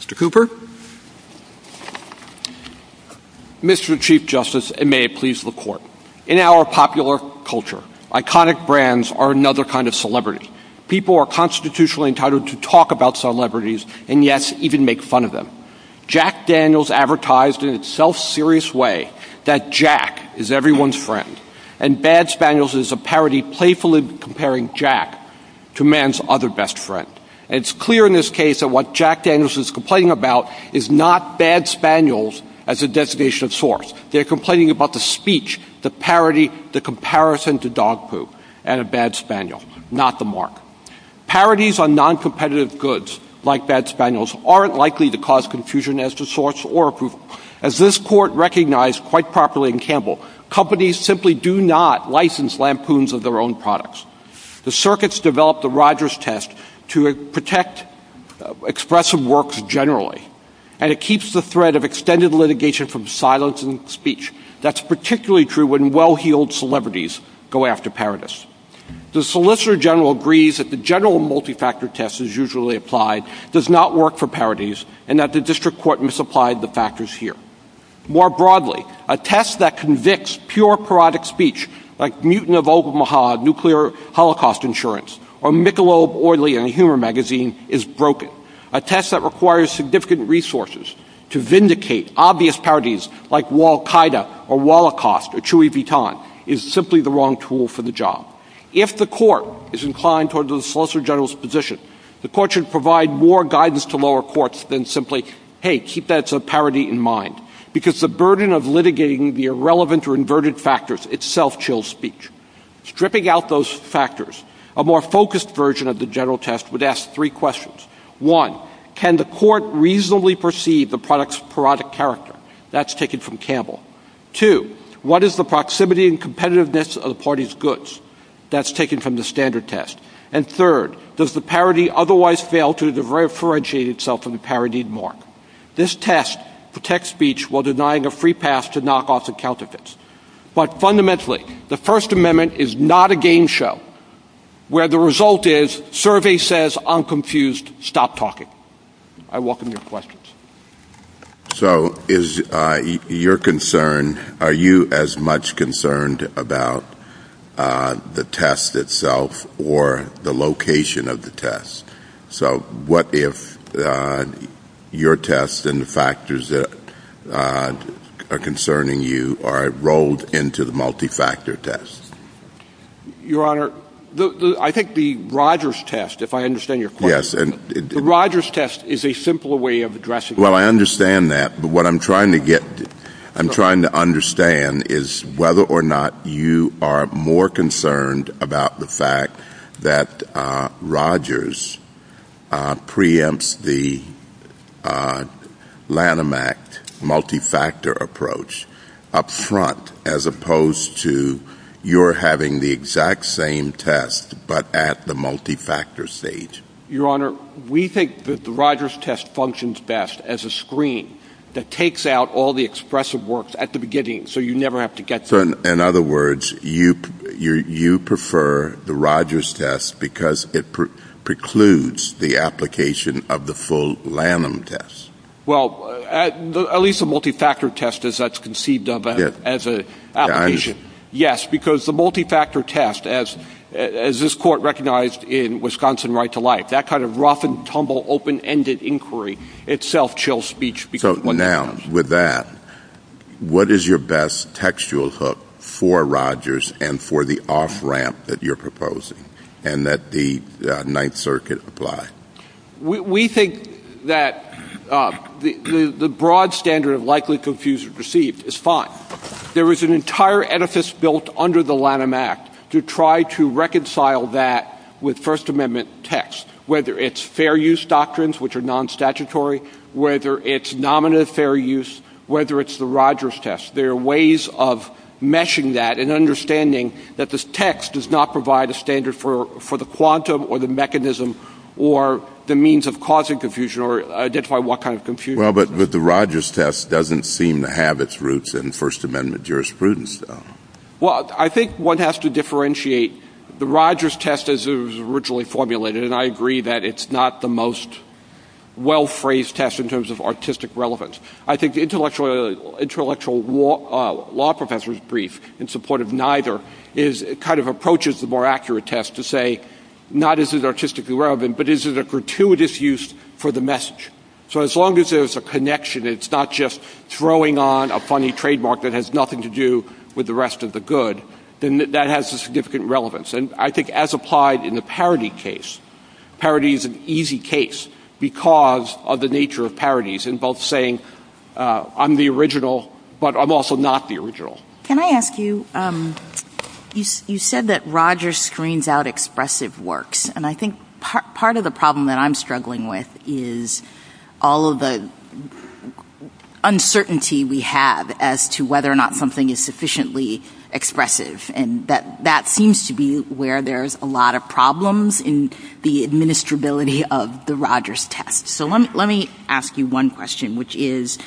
Mr. Cooper? Mr. Chief Justice, and may it please the Court, in our popular culture, iconic brands are another kind of celebrity. People are constitutionally entitled to talk about celebrities and, yes, even make fun of them. Jack Daniels advertised in a self-serious way that Jack is everyone's friend, and Bad Spaniels is a parody playfully comparing Jack to man's other best friend. It's clear in this case that what Jack Daniels is complaining about is not Bad Spaniels as a designation of sorts. They're complaining about the speech, the parody, the comparison to dog poop, and a Bad Spaniels, not the mark. Parodies on noncompetitive goods like Bad Spaniels aren't likely to cause confusion as to sorts or approval. As this Court recognized quite properly in Campbell, companies simply do not license lampoons of their own products. The circuits developed the Rogers test to protect expressive works generally, and it keeps the threat of extended litigation from silence and speech. That's particularly true when well-heeled celebrities go after parodies. The Solicitor General agrees that the general multi-factor test is usually applied, does not work for parodies, and that the District Court misapplied the factors here. More broadly, a test that convicts pure parodic speech, like Mutant of Omaha, Nuclear Holocaust Insurance, or Michelob, Oily, and Humor Magazine is broken. A test that requires significant resources to vindicate obvious parodies, like Wal-Kaida, or Holocaust, or Chuy Vitan, is simply the wrong tool for the job. If the Court is inclined toward the Solicitor General's position, the Court should provide more guidance to lower courts than simply, hey, keep that parody in mind, because the burden of litigating the irrelevant or inverted factors itself chills speech. Stripping out those factors, a more focused version of the general test would ask three questions. One, can the Court reasonably perceive the product's parodic character? That's taken from Campbell. Two, what is the proximity and competitiveness of the party's goods? That's taken from the standard test. And third, does the parody otherwise fail to differentiate itself from the parodied mark? This test protects speech while denying a free pass to knockoffs and counterfeits. But fundamentally, the First Amendment is not a game show, where the result is, survey says, I'm confused, stop talking. I welcome your questions. So is your concern, are you as much concerned about the test itself or the location of the test? So what if your test and the factors that are concerning you are rolled into the multi-factor test? Your Honor, I think the Rogers test, if I understand your question, The Rogers test is a simpler way of addressing it. Well, I understand that, but what I'm trying to get, I'm trying to understand is whether or not you are more concerned about the fact that Rogers preempts the Lanham Act multi-factor approach up front as opposed to you're having the exact same test, but at the multi-factor stage. Your Honor, we think that the Rogers test functions best as a screen that takes out all the expressive works at the beginning, so you never have to get to it. In other words, you prefer the Rogers test because it precludes the application of the full Lanham test. Well, at least the multi-factor test, as that's conceived of as an application. Yes, because the multi-factor test, as this Court recognized in Wisconsin right to life, that kind of rough and tumble open-ended inquiry itself chills speech. So now, with that, what is your best textual hook for Rogers and for the off-ramp that you're proposing, and that the Ninth Circuit apply? We think that the broad standard of likely, confused, and perceived is fine. There is an entire edifice built under the Lanham Act to try to reconcile that with First Amendment text, whether it's fair use doctrines, which are non-statutory, whether it's nominative fair use, whether it's the Rogers test. There are ways of meshing that and understanding that this text does not provide a standard for the quantum or the mechanism or the means of causing confusion or identify what kind of confusion. Well, but the Rogers test doesn't seem to have its roots in First Amendment jurisprudence, though. Well, I think one has to differentiate. The Rogers test, as it was originally formulated, and I agree that it's not the most well-phrased test in terms of artistic relevance. I think the intellectual law professor's brief in support of neither kind of approaches the more accurate test to say, not is it artistically relevant, but is it a gratuitous use for the message? So as long as there's a connection, it's not just throwing on a funny trademark that has nothing to do with the rest of the good, then that has a significant relevance. And I think as applied in the parity case, parity is an easy case because of the nature of parities and both saying, I'm the original, but I'm also not the original. Can I ask you, you said that Rogers screens out expressive works. And I think part of the problem that I'm struggling with is all of the uncertainty we have as to whether or not something is sufficiently expressive. And that seems to be where there's a lot of problems in the administrability of the Rogers test. So let me ask you one question, which is,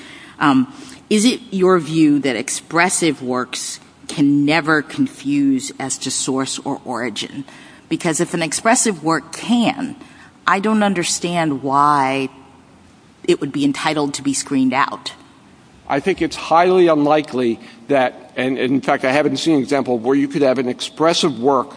is it your view that expressive works can never confuse as to source or origin? Because if an expressive work can, I don't understand why it would be entitled to be screened out. I think it's highly unlikely that, and in fact I haven't seen an example where you could have an expressive work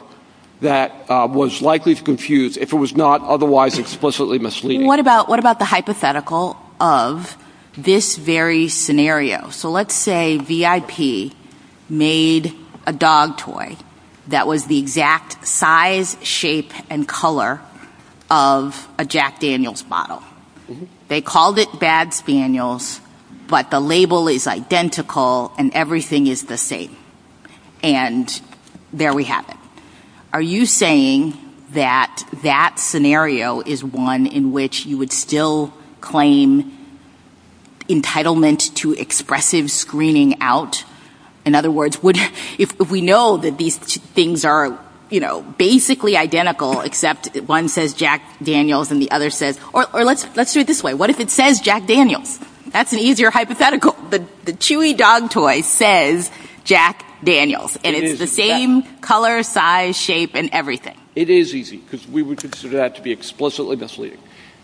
that was likely to confuse if it was not otherwise explicitly misleading. What about the hypothetical of this very scenario? So let's say VIP made a dog toy that was the exact size, shape, and color of a Jack Daniels bottle. They called it Bad Spaniels, but the label is identical and everything is the same. And there we have it. Are you saying that that scenario is one in which you would still claim entitlement to expressive screening out? In other words, if we know that these things are basically identical except one says Jack Daniels and the other says, or let's do it this way. What if it says Jack Daniels? That's an easier hypothetical. The chewy dog toy says Jack Daniels and it's the same color, size, shape, and everything. It is easy because we would consider that to be explicitly misleading.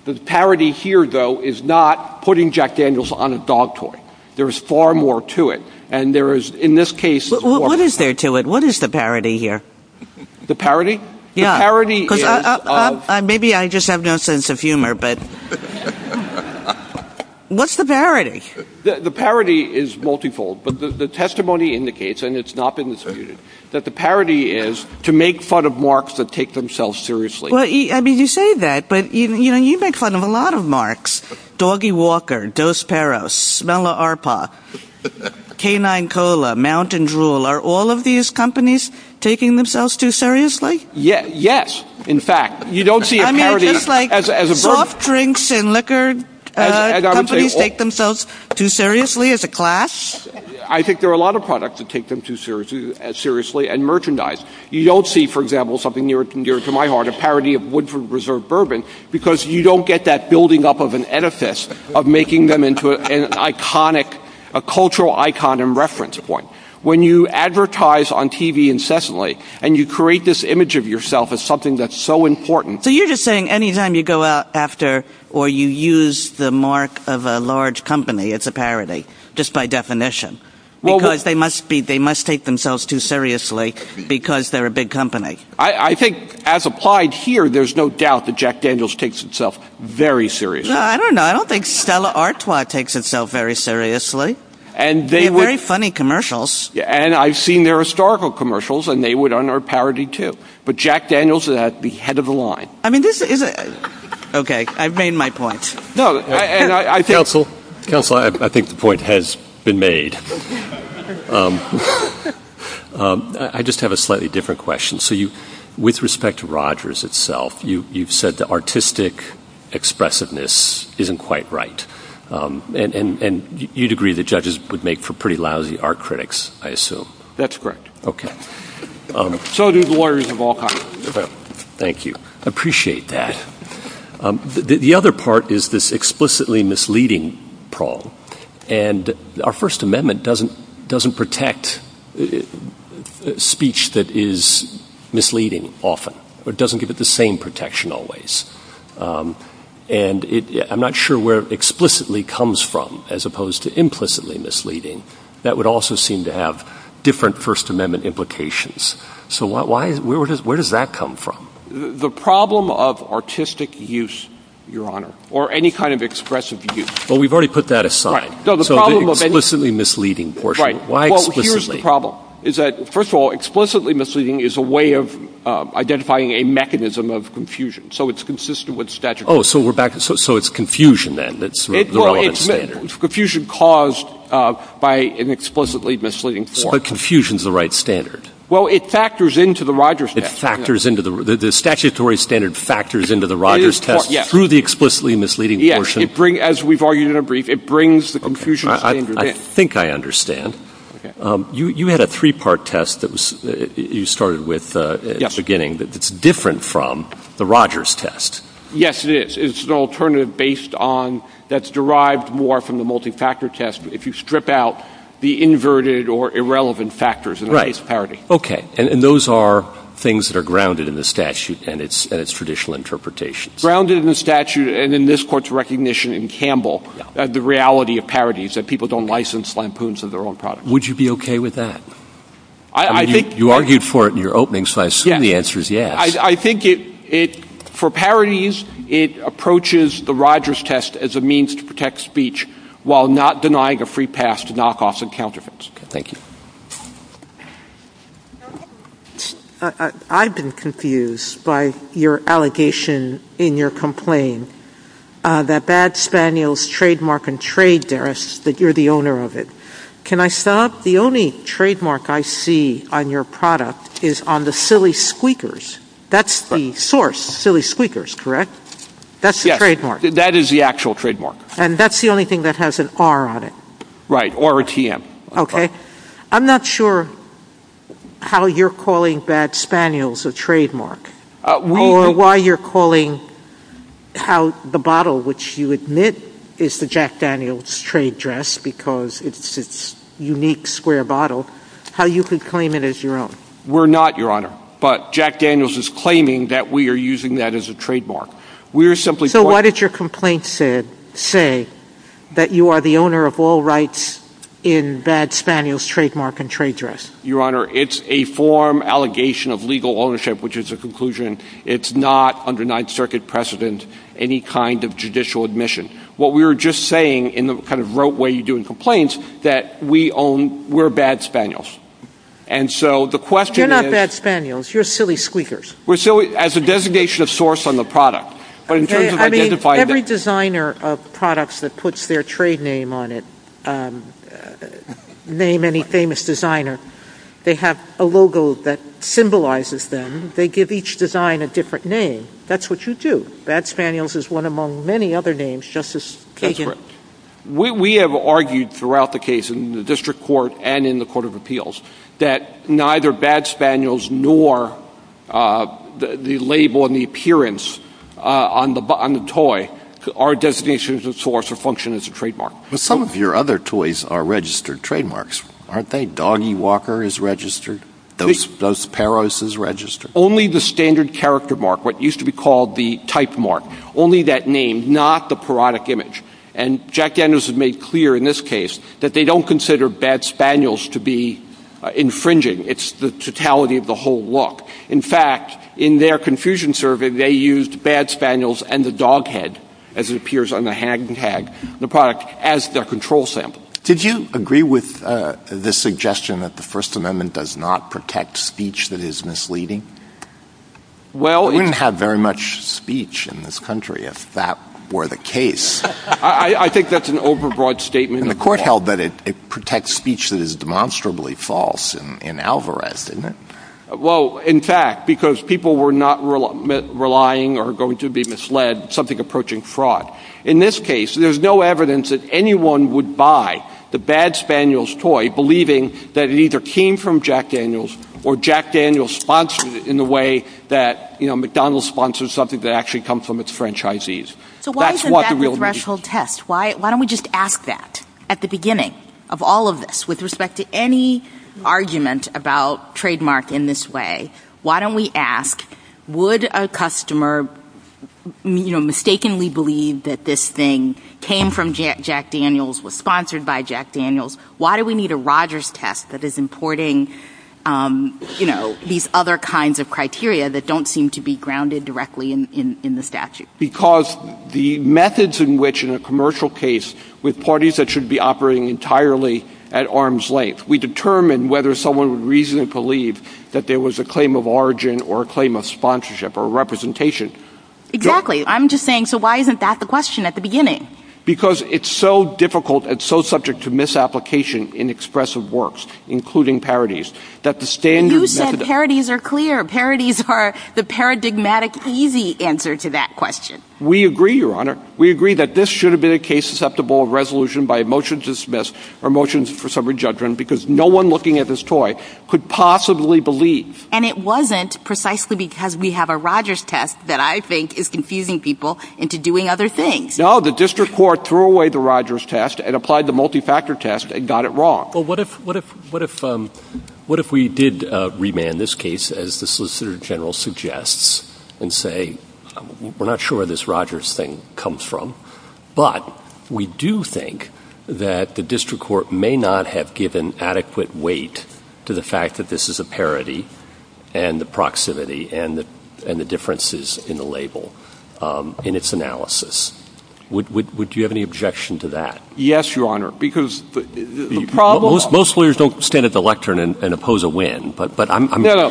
The parody here though is not putting Jack Daniels on a dog toy. There is far more to it. What is there to it? What is the parody here? The parody? Maybe I just have no sense of humor, but what's the parody? The parody is multifold. The testimony indicates, and it's not been disputed, that the parody is to make fun of marks that take themselves seriously. You say that, but you make fun of a lot of marks. Doggy Walker, Dos Peros, Smell-O-Arpa, Canine Cola, Mountain Drool. Are all of these companies taking themselves too seriously? Yes, in fact. I mean, it's just like soft drinks and liquor companies take themselves too seriously as a clash. I think there are a lot of products that take them too seriously, and merchandise. You don't see, for example, something near and dear to my heart, a parody of Woodford Reserve bourbon, because you don't get that building up of an edifice of making them into an iconic, a cultural icon and reference point. When you advertise on TV incessantly, and you create this image of yourself as something that's so important. So you're just saying any time you go out after, or you use the mark of a large company, it's a parody, just by definition. Because they must take themselves too seriously, because they're a big company. I think, as applied here, there's no doubt that Jack Daniels takes himself very seriously. No, I don't know. I don't think Stella Artois takes itself very seriously. They have very funny commercials. And I've seen their historical commercials, and they would honor a parody too. But Jack Daniels is at the head of the line. I mean, this is a... Okay, I've made my point. No, and I think... Counsel, I think the point has been made. I just have a slightly different question. With respect to Rogers itself, you've said the artistic expressiveness isn't quite right. And you'd agree that judges would make for pretty lousy art critics, I assume. That's correct. Okay. So do lawyers of all kinds. Thank you. I appreciate that. The other part is this explicitly misleading prong. And our First Amendment doesn't protect speech that is misleading often. It doesn't give it the same protection always. And I'm not sure where explicitly comes from as opposed to implicitly misleading. That would also seem to have different First Amendment implications. So where does that come from? The problem of artistic use, Your Honor, or any kind of expressive use. Well, we've already put that aside. So the explicitly misleading portion. Right. Well, here's the problem. First of all, explicitly misleading is a way of identifying a mechanism of confusion. So it's consistent with statute. Oh, so it's confusion then. It's confusion caused by an explicitly misleading form. But confusion's the right standard. Well, it factors into the Rogers test. The statutory standard factors into the Rogers test through the explicitly misleading portion. As we've argued in a brief, it brings the confusion standard in. I think I understand. You had a three-part test that you started with at the beginning that's different from the Rogers test. Yes, it is. It's an alternative based on, that's derived more from the multi-factor test, if you strip out the inverted or irrelevant factors in the case of parity. Right. Okay. And those are things that are grounded in the statute and its traditional interpretation. The reality of parity is that people don't license lampoons as their own product. Would you be okay with that? You argued for it in your opening, so I assume the answer is yes. I think for parities, it approaches the Rogers test as a means to protect speech while not denying a free pass to knockoffs and counterfeits. Thank you. I've been confused by your allegation in your complaint that bad spaniels trademark and trade that you're the owner of it. Can I stop? The only trademark I see on your product is on the silly squeakers. That's the source, silly squeakers, correct? Yes. That's the trademark. That is the actual trademark. And that's the only thing that has an R on it. Right, RRTM. Okay. I'm not sure how you're calling bad spaniels a trademark or why you're calling the bottle, which you admit is the Jack Daniels trade dress because it's a unique square bottle, how you could claim it as your own. We're not, Your Honor. But Jack Daniels is claiming that we are using that as a trademark. So why did your complaint say that you are the owner of all rights in bad spaniels trademark and trade dress? Your Honor, it's a form allegation of legal ownership, which is a conclusion. It's not under Ninth Circuit precedent any kind of judicial admission. What we were just saying in the kind of rote way you do in complaints that we own, we're bad spaniels. You're not bad spaniels. You're silly squeakers. We're silly as a designation of source on the product. I mean, every designer of products that puts their trade name on it, name any famous designer, they have a logo that symbolizes them. They give each design a different name. That's what you do. Bad spaniels is one among many other names, Justice Kagan. That's right. We have argued throughout the case in the district court and in the court of appeals that neither bad spaniels nor the label and the appearance on the toy are designations of source or function as a trademark. But some of your other toys are registered trademarks. Aren't they? Doggy Walker is registered. Dos Perros is registered. Only the standard character mark, what used to be called the type mark, only that name, not the parodic image. And Jack Danvers has made clear in this case that they don't consider bad spaniels to be infringing. It's the totality of the whole look. In fact, in their confusion survey, they used bad spaniels and the dog head, as it appears on the hag tag, the product, as their control sample. Did you agree with the suggestion that the First Amendment does not protect speech that is misleading? You wouldn't have very much speech in this country if that were the case. I think that's an overbroad statement. The court held that it protects speech that is demonstrably false and alvarized, didn't it? Well, in fact, because people were not relying or going to be misled, something approaching fraud. In this case, there's no evidence that anyone would buy the bad spaniels toy, without believing that it either came from Jack Daniels or Jack Daniels sponsored it in the way that, you know, McDonald's sponsors something that actually comes from its franchisees. So why isn't that the threshold test? Why don't we just ask that at the beginning of all of this, with respect to any argument about trademark in this way? Why don't we ask, would a customer, you know, mistakenly believe that this thing came from Jack Daniels, was sponsored by Jack Daniels? Why do we need a Rogers test that is importing, you know, these other kinds of criteria that don't seem to be grounded directly in the statute? Because the methods in which, in a commercial case, with parties that should be operating entirely at arm's length, we determine whether someone would reasonably believe that there was a claim of origin or a claim of sponsorship or representation. Exactly. I'm just saying, so why isn't that the question at the beginning? Because it's so difficult, it's so subject to misapplication in expressive works, including parodies, that the standard... You said parodies are clear. Parodies are the paradigmatic easy answer to that question. We agree, Your Honor. We agree that this should have been a case susceptible of resolution by a motion to dismiss or motions for summary judgment because no one looking at this toy could possibly believe. And it wasn't precisely because we have a Rogers test that I think is confusing people into doing other things. No, the district court threw away the Rogers test and applied the multi-factor test and got it wrong. Well, what if we did remand this case, as the Solicitor General suggests, and say, we're not sure where this Rogers thing comes from, but we do think that the district court may not have given adequate weight to the fact that this is a parody and the proximity and the differences in the label in its analysis. Would you have any objection to that? Yes, Your Honor, because the problem... Most lawyers don't stand at the lectern and oppose a win, but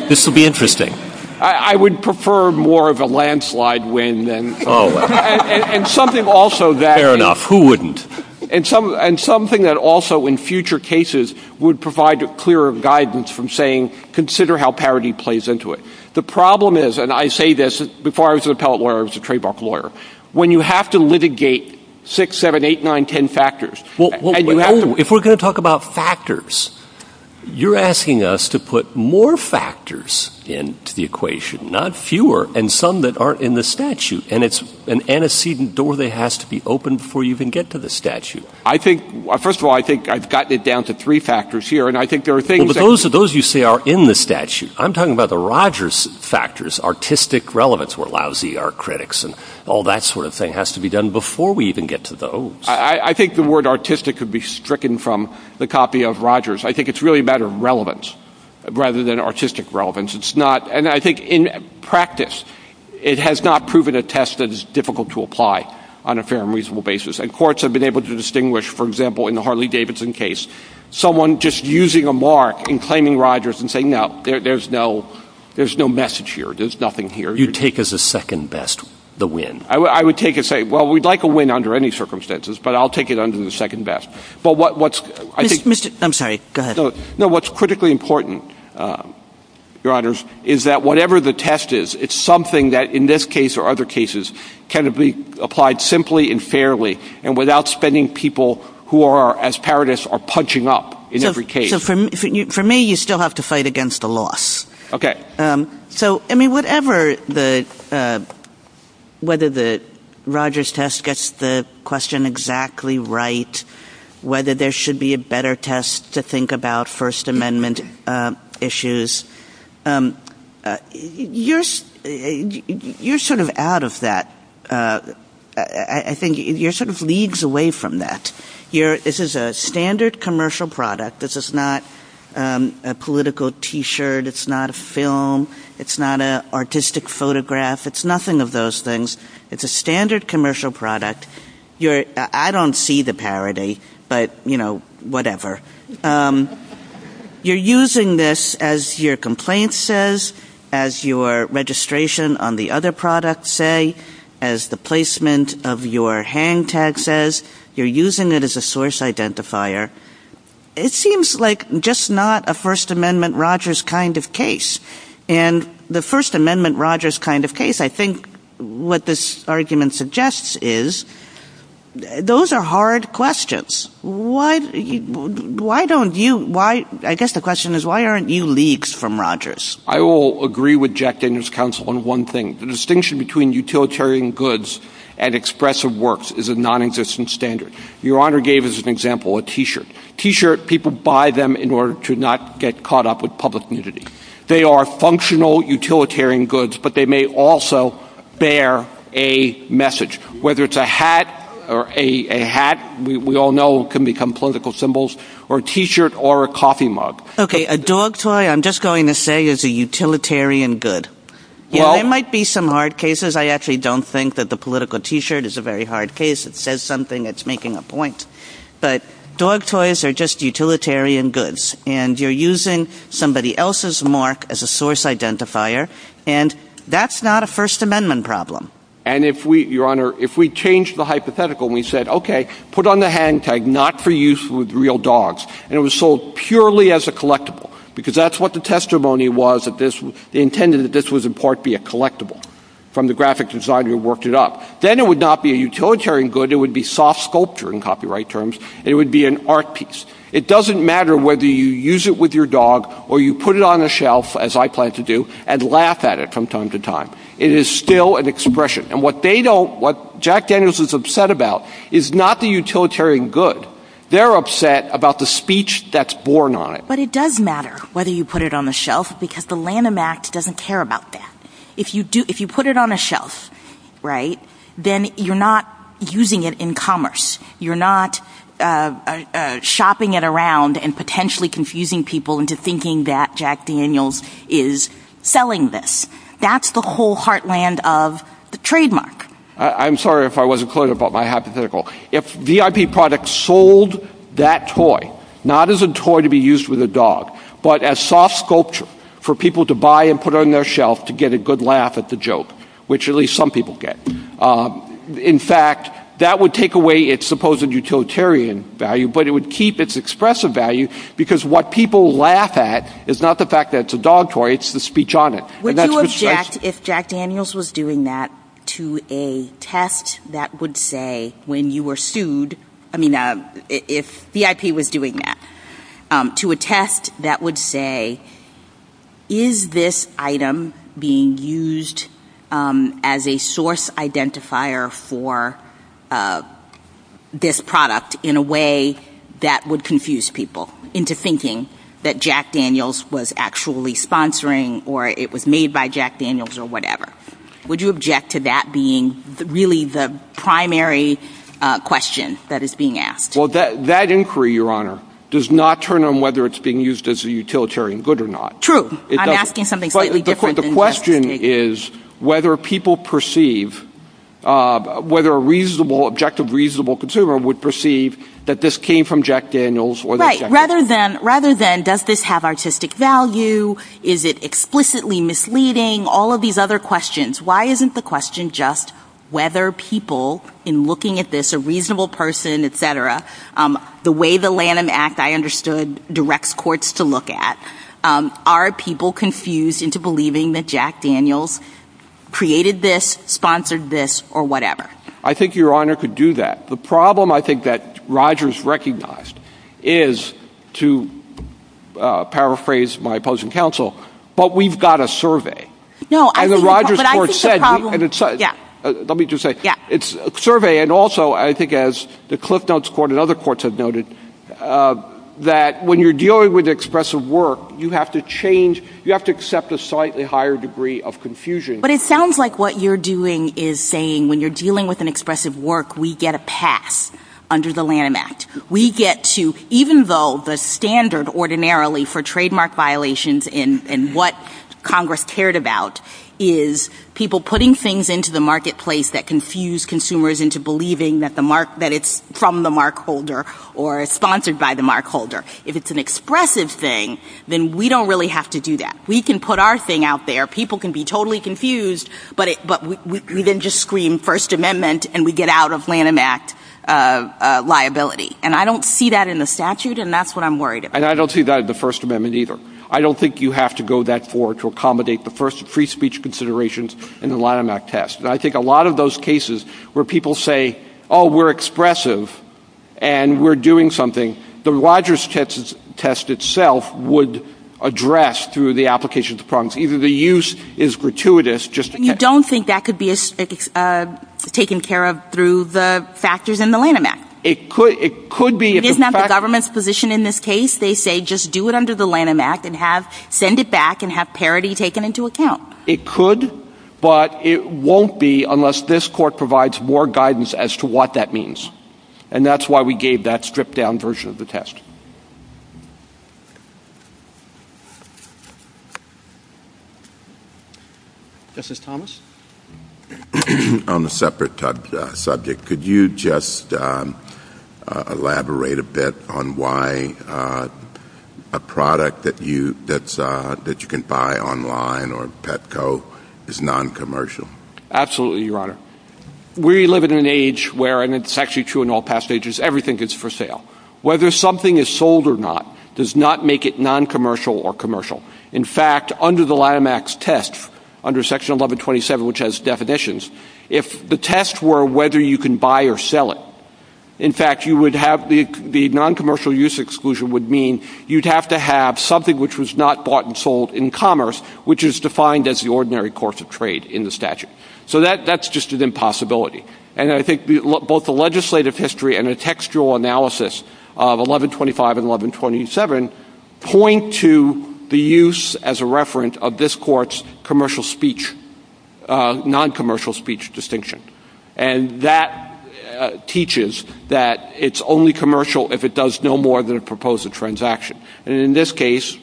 this will be interesting. I would prefer more of a landslide win than... Oh, well. And something also that... Fair enough. Who wouldn't? And something that also in future cases would provide a clearer guidance from saying, consider how parody plays into it. The problem is, and I say this, before I was an appellate lawyer, I was a trademark lawyer, when you have to litigate six, seven, eight, nine, ten factors... If we're going to talk about factors, you're asking us to put more factors into the equation, not fewer, and some that aren't in the statute. And it's an antecedent door that has to be opened before you can get to the statute. First of all, I think I've gotten it down to three factors here, and I think there are things... Those you say are in the statute. I'm talking about the Rogers factors, artistic relevance, where lousy are critics, and all that sort of thing has to be done before we even get to those. I think the word artistic could be stricken from the copy of Rogers. I think it's really a matter of relevance rather than artistic relevance. And I think in practice, it has not proven a test that is difficult to apply on a fair and reasonable basis. And courts have been able to distinguish, for example, in the Harley-Davidson case, someone just using a mark and claiming Rogers and saying, no, there's no message here, there's nothing here. You take as a second best the win. I would take it and say, well, we'd like a win under any circumstances, but I'll take it under the second best. I'm sorry, go ahead. No, what's critically important, Your Honors, is that whatever the test is, it's something that in this case or other cases can be applied simply and fairly and without spending people who are, as parodists, are punching up in every case. So for me, you still have to fight against a loss. Okay. So, I mean, whatever the... Whether the Rogers test gets the question exactly right, whether there should be a better test to think about First Amendment issues, you're sort of out of that. I think you're sort of leagues away from that. This is a standard commercial product. This is not a political T-shirt. It's not a film. It's not an artistic photograph. It's nothing of those things. It's a standard commercial product. I don't see the parody, but, you know, whatever. You're using this as your complaint says, as your registration on the other product say, as the placement of your hang tag says. You're using it as a source identifier. It seems like just not a First Amendment Rogers kind of case. And the First Amendment Rogers kind of case, I think what this argument suggests is, those are hard questions. Why don't you... I guess the question is, why aren't you leagues from Rogers? I will agree with Jack Daniels' counsel on one thing. The distinction between utilitarian goods and expressive works is a non-existent standard. Your Honor gave as an example a T-shirt. T-shirt, people buy them in order to not get caught up with public nudity. They are functional utilitarian goods, but they may also bear a message. Whether it's a hat, or a hat, we all know can become political symbols, or a T-shirt or a coffee mug. Okay, a dog toy, I'm just going to say, is a utilitarian good. There might be some hard cases. I actually don't think that the political T-shirt is a very hard case. It says something that's making a point. But dog toys are just utilitarian goods. And you're using somebody else's mark as a source identifier, and that's not a First Amendment problem. And if we, Your Honor, if we changed the hypothetical and we said, okay, put on the hand tag, not for use with real dogs, and it was sold purely as a collectible, because that's what the testimony was, they intended that this was in part be a collectible, from the graphic designer who worked it up. Then it would not be a utilitarian good, it would be soft sculpture in copyright terms. It would be an art piece. It doesn't matter whether you use it with your dog, or you put it on the shelf, as I plan to do, and laugh at it from time to time. It is still an expression. And what they don't, what Jack Daniels is upset about, is not the utilitarian good. They're upset about the speech that's born on it. But it does matter whether you put it on the shelf, because the Lanham Act doesn't care about that. If you put it on the shelf, right, then you're not using it in commerce. You're not shopping it around, and potentially confusing people into thinking that Jack Daniels is selling this. That's the whole heartland of the trademark. I'm sorry if I wasn't clear about my hypothetical. If VIP products sold that toy, not as a toy to be used with a dog, but as soft sculpture for people to buy and put on their shelf to get a good laugh at the joke, which at least some people get. In fact, that would take away its supposed utilitarian value, but it would keep its expressive value, because what people laugh at is not the fact that it's a dog toy, it's the speech on it. Would you object, if Jack Daniels was doing that, to a test that would say, when you were sued, I mean, if VIP was doing that, to a test that would say, is this item being used as a source identifier for this product in a way that would confuse people into thinking that Jack Daniels was actually sponsoring or it was made by Jack Daniels or whatever? Would you object to that being really the primary question that is being asked? Well, that inquiry, Your Honor, does not turn on whether it's being used as a utilitarian good or not. True. I'm asking something slightly different than that. The question is whether people perceive, whether a reasonable, objective, reasonable consumer would perceive that this came from Jack Daniels. Right. Rather than, does this have artistic value? Is it explicitly misleading? All of these other questions. Why isn't the question just whether people, in looking at this, a reasonable person, et cetera, the way the Lanham Act, I understood, directs courts to look at, are people confused into believing that Jack Daniels created this, sponsored this, or whatever? I think Your Honor could do that. The problem, I think, that Rogers recognized is, to paraphrase my opposing counsel, but we've got a survey. No. And the Rogers court said, and let me just say, it's a survey and also, I think, as the Cliff Notes court and other courts have noted, that when you're dealing with expressive work, you have to change, you have to accept a slightly higher degree of confusion. But it sounds like what you're doing is saying, when you're dealing with an expressive work, we get a pass under the Lanham Act. We get to, even though the standard, ordinarily, for trademark violations and what Congress cared about is people putting things into the marketplace that confuse consumers into believing that it's from the markholder or is sponsored by the markholder. If it's an expressive thing, then we don't really have to do that. We can put our thing out there. People can be totally confused, but we then just scream First Amendment and we get out of Lanham Act liability. And I don't see that in the statute, and that's what I'm worried about. And I don't see that in the First Amendment either. I don't think you have to go that far to accommodate the first free speech considerations in the Lanham Act test. And I think a lot of those cases where people say, oh, we're expressive and we're doing something, the Rogers test itself would address through the application of the prongs. Even the use is gratuitous just to test. You don't think that could be taken care of through the factors in the Lanham Act? It could be. Isn't that the government's position in this case? They say just do it under the Lanham Act and send it back and have parity taken into account. It could, but it won't be unless this court provides more guidance as to what that means. And that's why we gave that stripped-down version of the test. Justice Thomas? On a separate subject, could you just elaborate a bit on why a product that you can buy online or Petco is noncommercial? Absolutely, Your Honor. We live in an age where, and it's actually true in all past ages, everything is for sale. Whether something is sold or not does not make it noncommercial or commercial. In fact, under the Lanham Act's test, under Section 1127, which has definitions, if the test were whether you can buy or sell it, in fact, the noncommercial use exclusion would mean you'd have to have something which was not bought and sold in commerce, which is defined as the ordinary course of trade in the statute. So that's just an impossibility. And I think both the legislative history and the textual analysis of 1125 and 1127 point to the use as a referent of this court's commercial speech, noncommercial speech distinction. And that teaches that it's only commercial if it does no more than propose a transaction. And in this case,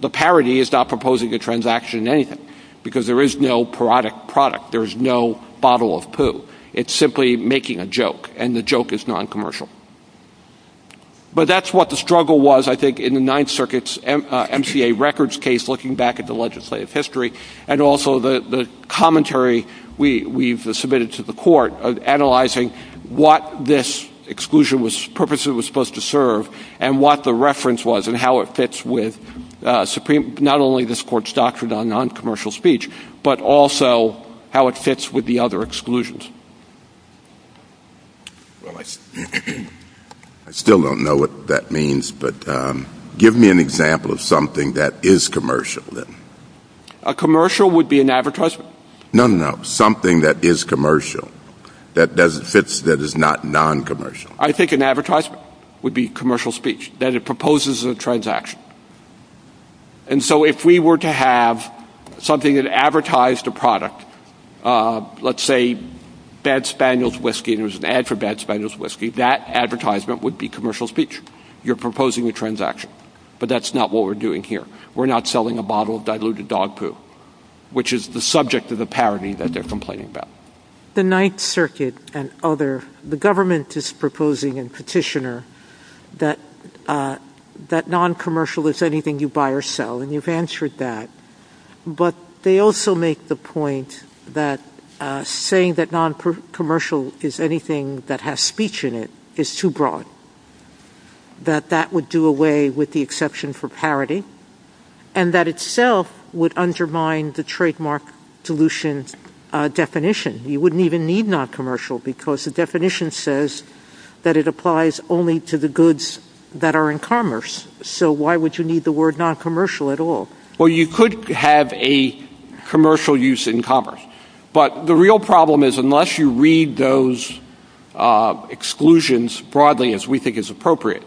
the parody is not proposing a transaction in anything because there is no product. There is no bottle of poo. It's simply making a joke, and the joke is noncommercial. But that's what the struggle was, I think, in the Ninth Circuit's MCA records case, looking back at the legislative history, and also the commentary we've submitted to the court of analyzing what this exclusion purposefully was supposed to serve and what the reference was and how it fits with not only this court's doctrine on noncommercial speech, but also how it fits with the other exclusions. I still don't know what that means, but give me an example of something that is commercial, then. A commercial would be an advertisement. No, no, no, something that is commercial, that fits, that is not noncommercial. I think an advertisement would be commercial speech, that it proposes a transaction. And so if we were to have something that advertised a product, let's say Bad Spaniel's Whiskey, and it was an ad for Bad Spaniel's Whiskey, that advertisement would be commercial speech. You're proposing a transaction. But that's not what we're doing here. We're not selling a bottle of diluted dog poo, which is the subject of the parody that they're complaining about. The Ninth Circuit and other, the government is proposing in Petitioner that noncommercial is anything you buy or sell, and you've answered that. But they also make the point that saying that noncommercial is anything that has speech in it is too broad, that that would do away with the exception for parody, and that itself would undermine the trademark dilution definition. You wouldn't even need noncommercial, because the definition says that it applies only to the goods that are in commerce. So why would you need the word noncommercial at all? Well, you could have a commercial use in commerce. But the real problem is unless you read those exclusions broadly, as we think is appropriate,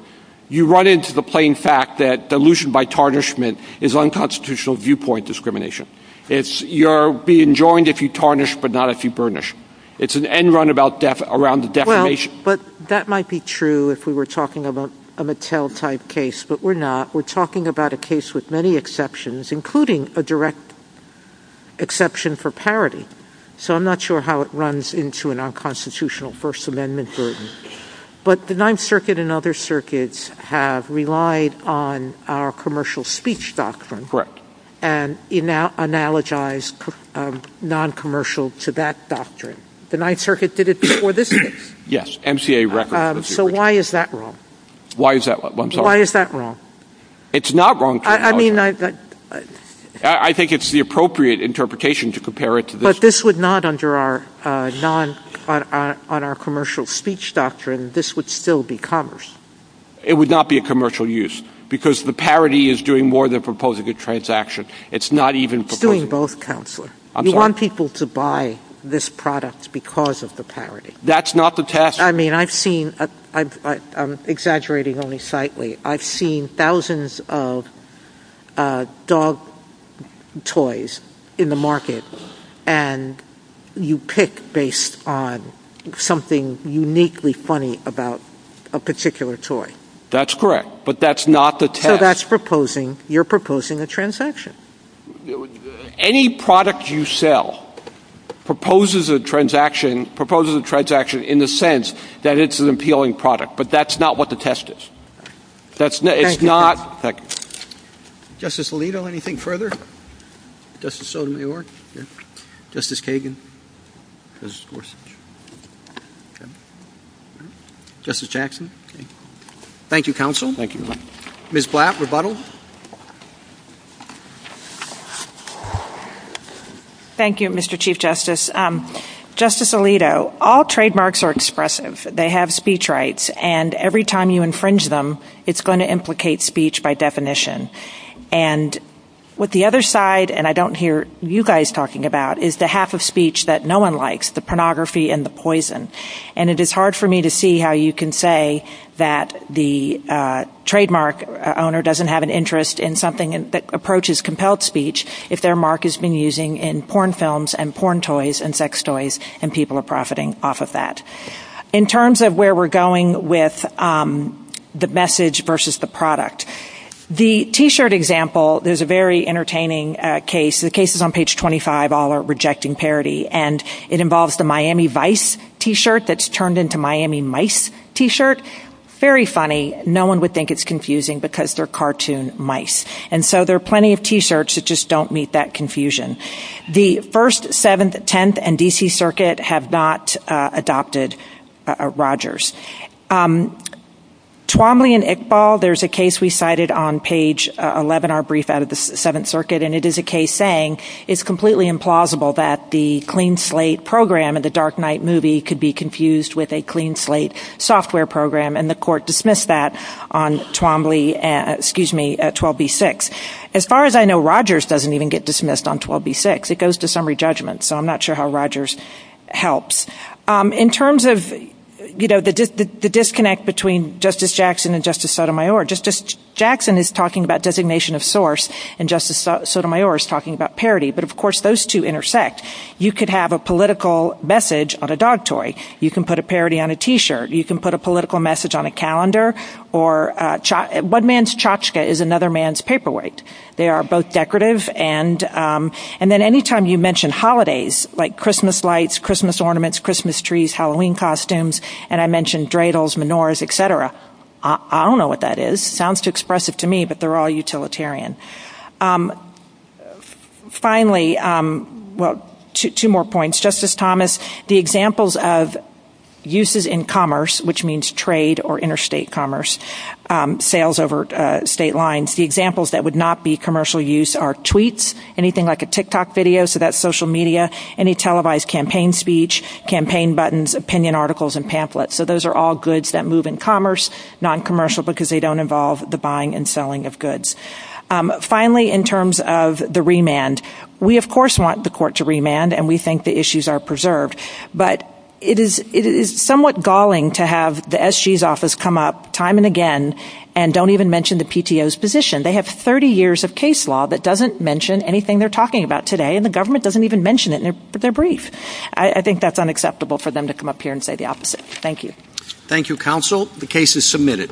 you run into the plain fact that dilution by tarnishment is unconstitutional viewpoint discrimination. You're being joined if you tarnish, but not if you burnish. It's an end run around the definition. Well, but that might be true if we were talking about a Mattel-type case, but we're not. We're talking about a case with many exceptions, including a direct exception for parody. So I'm not sure how it runs into an unconstitutional First Amendment burden. But the Ninth Circuit and other circuits have relied on our commercial speech doctrine and analogized noncommercial to that doctrine. The Ninth Circuit did it before this case. Yes, MCA record. So why is that wrong? Why is that wrong? I'm sorry. Why is that wrong? It's not wrong. I mean, I think it's the appropriate interpretation to compare it to this. But this would not, under our commercial speech doctrine, this would still be commerce. It would not be a commercial use because the parody is doing more than proposing a transaction. It's not even proposing. It's doing both, Counselor. You want people to buy this product because of the parody. That's not the task force. I mean, I've seen, I'm exaggerating only slightly, I've seen thousands of dog toys in the market and you pick based on something uniquely funny about a particular toy. That's correct. But that's not the test. So that's proposing. You're proposing a transaction. Any product you sell proposes a transaction in the sense that it's an appealing product. But that's not what the test is. It's not. Thank you. Justice Alito, anything further? Justice Sotomayor? Yes. Justice Kagan? Yes, of course. Justice Jackson? Yes. Thank you, Counsel. Thank you. Ms. Blatt, rebuttal. Thank you, Mr. Chief Justice. Justice Alito, all trademarks are expressive. They have speech rights. And every time you infringe them, it's going to implicate speech by definition. And what the other side, and I don't hear you guys talking about, is the half of speech that no one likes, the pornography and the poison. And it is hard for me to see how you can say that the trademark owner doesn't have an interest in something that approaches compelled speech if their mark has been using in porn films and porn toys and sex toys and people are profiting off of that. In terms of where we're going with the message versus the product, the T-shirt example is a very entertaining case. The case is on page 25, All Are Rejecting Parity. And it involves the Miami Vice T-shirt that's turned into Miami Mice T-shirt. Very funny. No one would think it's confusing because they're cartoon mice. And so there are plenty of T-shirts that just don't meet that confusion. The First, Seventh, Tenth, and D.C. Circuit have not adopted Rogers. Twombly and Iqbal, there's a case we cited on page 11, our brief out of the Seventh Circuit, and it is a case saying it's completely implausible that the clean slate program of the Dark Knight movie could be confused with a clean slate software program, and the court dismissed that on Twombly, excuse me, 12b-6. As far as I know, Rogers doesn't even get dismissed on 12b-6. It goes to summary judgment, so I'm not sure how Rogers helps. In terms of, you know, the disconnect between Justice Jackson and Justice Sotomayor, Justice Jackson is talking about designation of source and Justice Sotomayor is talking about parody. But, of course, those two intersect. You could have a political message on a dog toy. You can put a parody on a T-shirt. You can put a political message on a calendar. One man's tchotchke is another man's paperweight. They are both decorative. And then any time you mention holidays, like Christmas lights, Christmas ornaments, Christmas trees, Halloween costumes, and I mentioned dreidels, menorahs, et cetera, I don't know what that is. It sounds too expressive to me, but they're all utilitarian. Finally, well, two more points. Justice Thomas, the examples of uses in commerce, which means trade or interstate commerce, sales over state lines, the examples that would not be commercial use are tweets, anything like a TikTok video, so that's social media, any televised campaign speech, campaign buttons, opinion articles, and pamphlets. So those are all goods that move in commerce, not commercial because they don't involve the buying and selling of goods. Finally, in terms of the remand, we, of course, want the court to remand, and we think the issues are preserved. But it is somewhat galling to have the SG's office come up time and again and don't even mention the PTO's position. They have 30 years of case law that doesn't mention anything they're talking about today, and the government doesn't even mention it in their brief. I think that's unacceptable for them to come up here and say the opposite. Thank you. Thank you, counsel. The case is submitted.